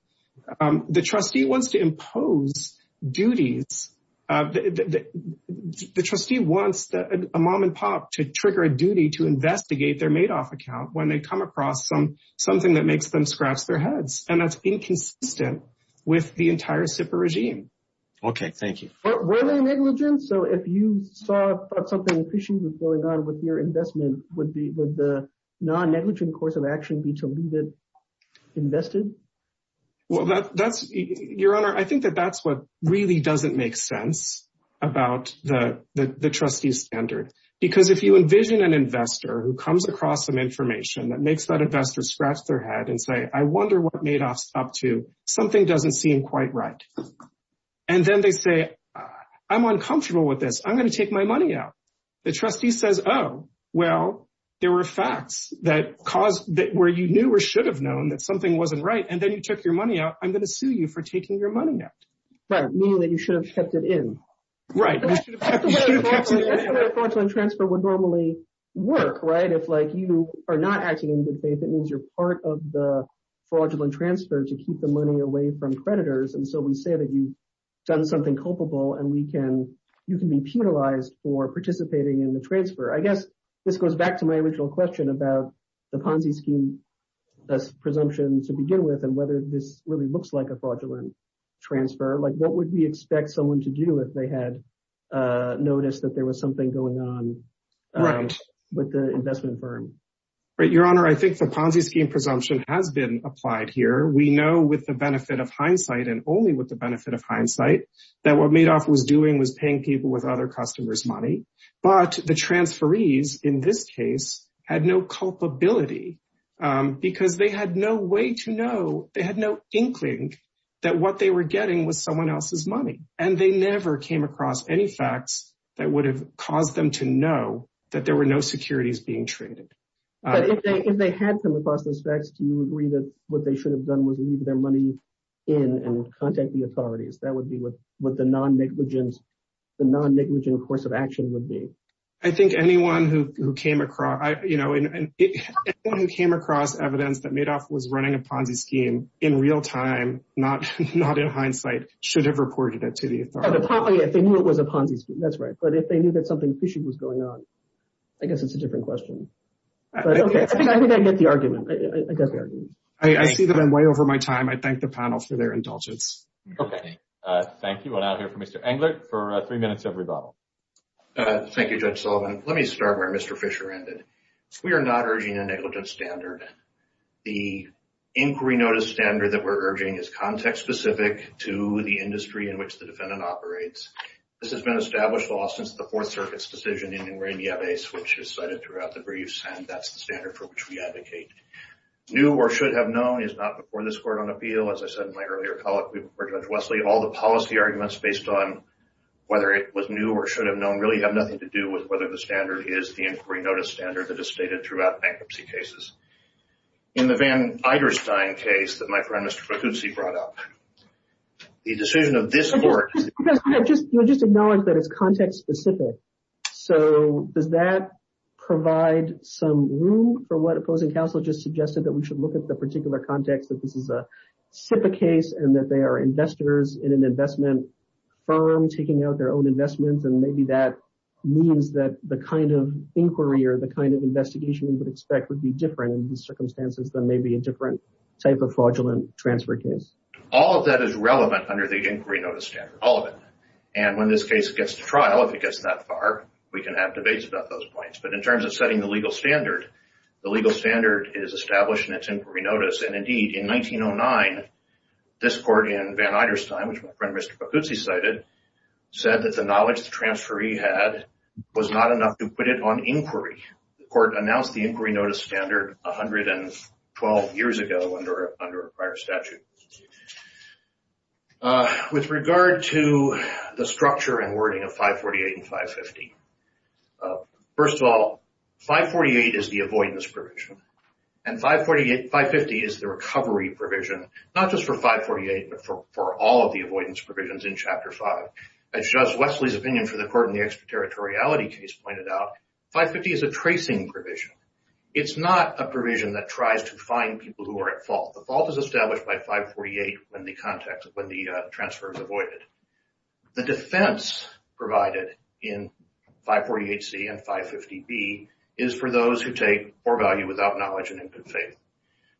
The trustee wants to impose duties. The trustee wants a mom and pop to trigger a duty to investigate their made off account when they come across some something that makes them scratch their heads. And that's inconsistent with the entire SIPA regime. OK, thank you. So if you saw something going on with your investment, would the non-negligent course of action be to leave it invested? Well, that's your honor. I think that that's what really doesn't make sense about the trustee standard. Because if you envision an investor who comes across some information that makes that investor scratch their head and say, I wonder what made us up to something doesn't seem quite right. And then they say, I'm uncomfortable with this. I'm going to take my money out. The trustee says, oh, well, there were facts that caused that where you knew or should have known that something wasn't right. And then you took your money out. I'm going to sue you for taking your money out. But meaning that you should have kept it in. Right. That's the way a fraudulent transfer would normally work, right? If like you are not acting in good faith, it means you're part of the fraudulent transfer to keep the money away from creditors. And so we say that you've done something culpable and we can you can be penalized for participating in the transfer. I guess this goes back to my original question about the Ponzi scheme presumption to begin with and whether this really looks like a fraudulent transfer. Like, what would we expect someone to do if they had noticed that there was something going on with the investment firm? Right. Your honor, I think the Ponzi scheme presumption has been applied here. We know with the benefit of hindsight and only with the benefit of hindsight that what Madoff was doing was paying people with other customers' money. But the transferees in this case had no culpability because they had no way to know. They had no inkling that what they were getting was someone else's money. And they never came across any facts that would have caused them to know that there were no securities being traded. If they had come across those facts, do you agree that what they should have done was leave their money in and contact the authorities? That would be what the non-negligent course of action would be. I think anyone who came across evidence that Madoff was running a Ponzi scheme in real time, not in hindsight, should have reported it to the authorities. If they knew it was a Ponzi scheme, that's right. But if they knew that something fishy was going on, I guess it's a different question. I think I get the argument. I see that I'm way over my time. I thank the panel for their indulgence. Okay. Thank you. I'll now hear from Mr. Englert for three minutes of rebuttal. Thank you, Judge Sullivan. Let me start where Mr. Fisher ended. We are not urging a negligence standard. The inquiry notice standard that we're urging is context-specific to the industry in which the defendant operates. This has been established law since the Fourth Circuit's decision in Ingram-Yabes, which is cited throughout the briefs. And that's the standard for which we advocate. New or should have known is not before this court on appeal. As I said in my earlier colloquy before Judge Wesley, all the policy arguments based on whether it was new or should have known really have nothing to do with whether the standard is the inquiry notice standard that is stated throughout bankruptcy cases. In the Van Eiderstein case that my friend Mr. Facuzzi brought up, the decision of this court— You just acknowledged that it's context-specific. So does that provide some room for what opposing counsel just suggested that we should look at the particular context that this is a SIPA case and that they are investors in an investment firm taking out their own investments? And maybe that means that the kind of inquiry or the kind of investigation we would expect would be different in these circumstances than maybe a different type of fraudulent transfer case. All of that is relevant under the inquiry notice standard. All of it. And when this case gets to trial, if it gets that far, we can have debates about those points. But in terms of setting the legal standard, the legal standard is established in its inquiry notice. And indeed, in 1909, this court in Van Eiderstein, which my friend Mr. Facuzzi cited, said that the knowledge the transferee had was not enough to put it on inquiry. The court announced the inquiry notice standard 112 years ago under a prior statute. With regard to the structure and wording of 548 and 550, first of all, 548 is the avoidance provision. And 550 is the recovery provision, not just for 548, but for all of the avoidance provisions in Chapter 5. As Judge Wesley's opinion for the court in the extraterritoriality case pointed out, 550 is a tracing provision. It's not a provision that tries to find people who are at fault. The fault is established by 548 when the transfer is avoided. The defense provided in 548C and 550B is for those who take or value without knowledge and in good faith.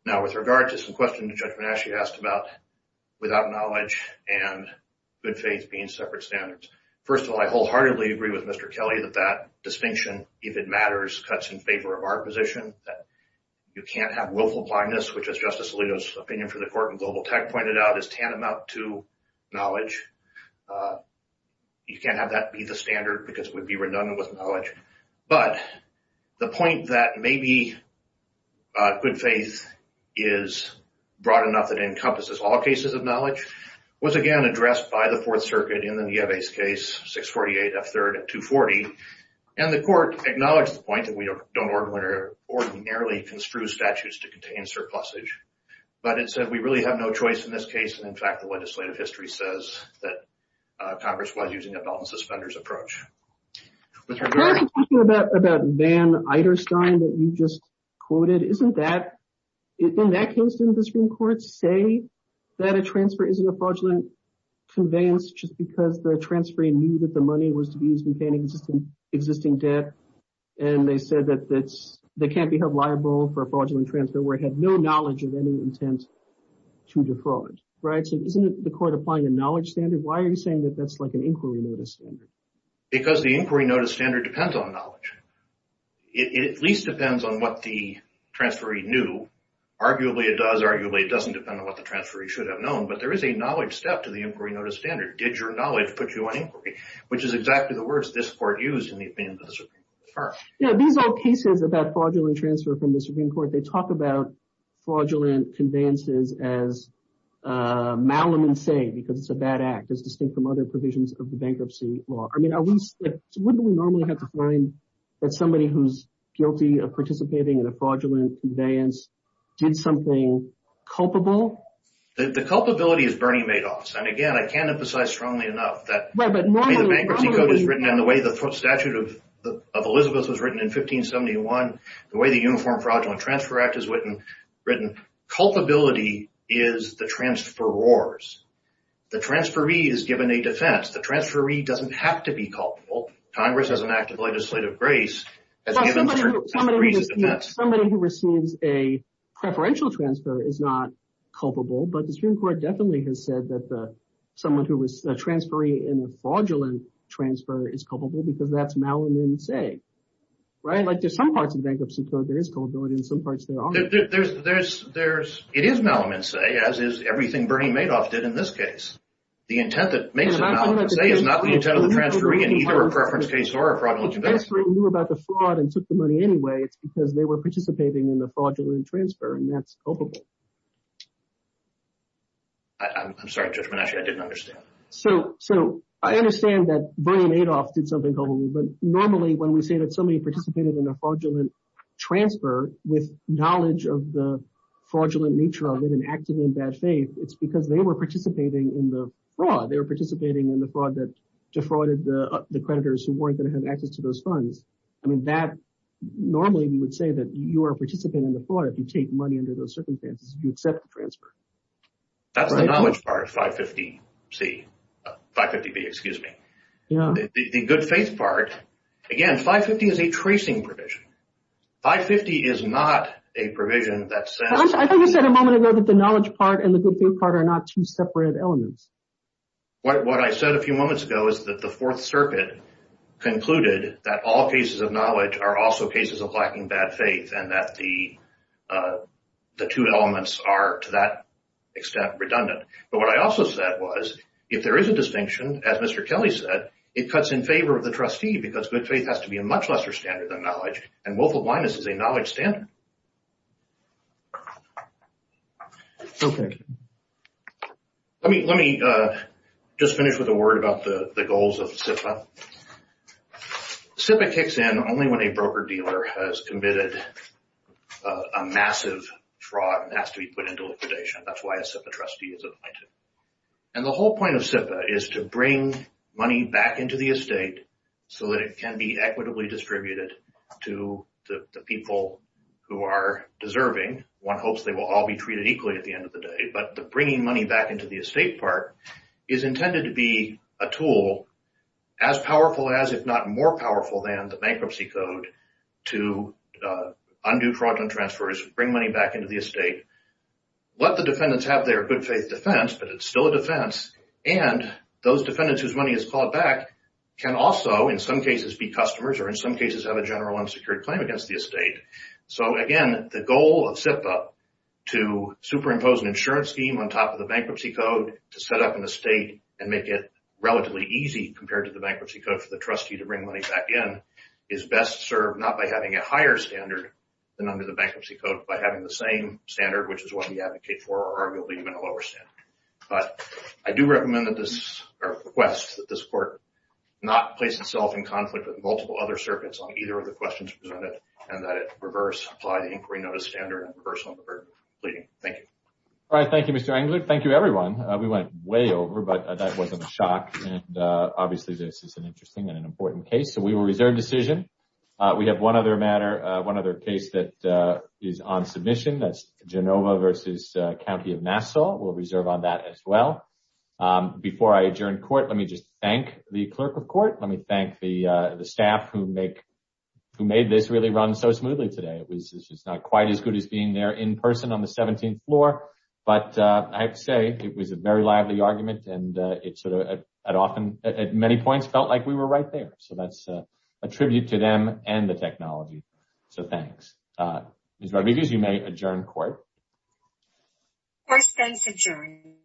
Now, with regard to some questions Judge Manasci asked about without knowledge and good faith being separate standards, first of all, I wholeheartedly agree with Mr. Kelly that that distinction, if it matters, cuts in favor of our position. You can't have willful blindness, which, as Justice Alito's opinion for the court in Global Tech pointed out, is tantamount to knowledge. You can't have that be the standard because it would be redundant with knowledge. But the point that maybe good faith is broad enough that it encompasses all cases of knowledge was, again, addressed by the Fourth Circuit in the Nieves case, 648F3rd and 240. And the court acknowledged the point that we don't ordinarily construe statutes to contain surpluses. But it said we really have no choice in this case. And, in fact, the legislative history says that Congress was using a belt-and-suspenders approach. You were talking about Van Eiderstein that you just quoted. Isn't that – in that case, didn't the Supreme Court say that a transfer isn't a fraudulent conveyance just because the transferee knew that the money was to be used to pay an existing debt? And they said that it can't be held liable for a fraudulent transfer where it had no knowledge of any intent to defraud, right? So isn't the court applying a knowledge standard? Why are you saying that that's like an inquiry notice standard? Because the inquiry notice standard depends on knowledge. It at least depends on what the transferee knew. Arguably, it does. Arguably, it doesn't depend on what the transferee should have known. But there is a knowledge step to the inquiry notice standard. Did your knowledge put you on inquiry, which is exactly the words this court used in the opinion of the Supreme Court. These are cases about fraudulent transfer from the Supreme Court. They talk about fraudulent conveyances as malum in se because it's a bad act. It's distinct from other provisions of the bankruptcy law. I mean are we – wouldn't we normally have to find that somebody who's guilty of participating in a fraudulent conveyance did something culpable? The culpability is Bernie Madoff's. And again, I can't emphasize strongly enough that the way the bankruptcy code is written and the way the statute of Elizabeth was written in 1571, the way the Uniform Fraudulent Transfer Act is written, culpability is the transferor's. The transferee is given a defense. The transferee doesn't have to be culpable. Congress as an act of legislative grace has given certain degrees of defense. Somebody who receives a preferential transfer is not culpable, but the Supreme Court definitely has said that someone who was a transferee in a fraudulent transfer is culpable because that's malum in se. Like there's some parts of the bankruptcy code there is culpability and some parts there aren't. It is malum in se, as is everything Bernie Madoff did in this case. The intent that makes it malum in se is not the intent of the transferee in either a preference case or a fraudulent conveyance. If the transferee knew about the fraud and took the money anyway, it's because they were participating in the fraudulent transfer, and that's culpable. I'm sorry, Judge Menasche, I didn't understand. So I understand that Bernie Madoff did something culpable, but normally when we say that somebody participated in a fraudulent transfer with knowledge of the fraudulent nature of it and acted in bad faith, it's because they were participating in the fraud. They were participating in the fraud that defrauded the creditors who weren't going to have access to those funds. I mean, normally we would say that you are participating in the fraud if you take money under those circumstances, if you accept the transfer. That's the knowledge part of 550B. The good faith part, again, 550 is a tracing provision. 550 is not a provision that says— I thought you said a moment ago that the knowledge part and the good faith part are not two separate elements. What I said a few moments ago is that the Fourth Circuit concluded that all cases of knowledge are also cases of lacking bad faith and that the two elements are to that extent redundant. But what I also said was if there is a distinction, as Mr. Kelly said, it cuts in favor of the trustee because good faith has to be a much lesser standard than knowledge, and willful blindness is a knowledge standard. Okay. Let me just finish with a word about the goals of SIPA. SIPA kicks in only when a broker-dealer has committed a massive fraud and has to be put into liquidation. That's why a SIPA trustee is appointed. And the whole point of SIPA is to bring money back into the estate so that it can be equitably distributed to the people who are deserving. One hopes they will all be treated equally at the end of the day. But the bringing money back into the estate part is intended to be a tool as powerful as, if not more powerful than, the bankruptcy code to undo fraudulent transfers, bring money back into the estate. Let the defendants have their good faith defense, but it's still a defense. And those defendants whose money is called back can also, in some cases, be customers or, in some cases, have a general unsecured claim against the estate. So, again, the goal of SIPA, to superimpose an insurance scheme on top of the bankruptcy code to set up an estate and make it relatively easy compared to the bankruptcy code for the trustee to bring money back in, is best served not by having a higher standard than under the bankruptcy code, but having the same standard, which is what we advocate for, or arguably even a lower standard. But I do request that this Court not place itself in conflict with multiple other circuits on either of the questions presented and that it reverse, apply the inquiry notice standard and reverse on the burden of pleading. Thank you. All right. Thank you, Mr. Engler. Thank you, everyone. We went way over, but that wasn't a shock. And, obviously, this is an interesting and an important case. So we will reserve decision. We have one other matter, one other case that is on submission. That's Genova versus County of Nassau. We'll reserve on that as well. Before I adjourn court, let me just thank the Clerk of Court. Let me thank the staff who made this really run so smoothly today. It was just not quite as good as being there in person on the 17th floor. But I have to say, it was a very lively argument, and it sort of, at many points, felt like we were right there. So that's a tribute to them and the technology. So thanks. Ms. Rodriguez, you may adjourn court. Court stands adjourned.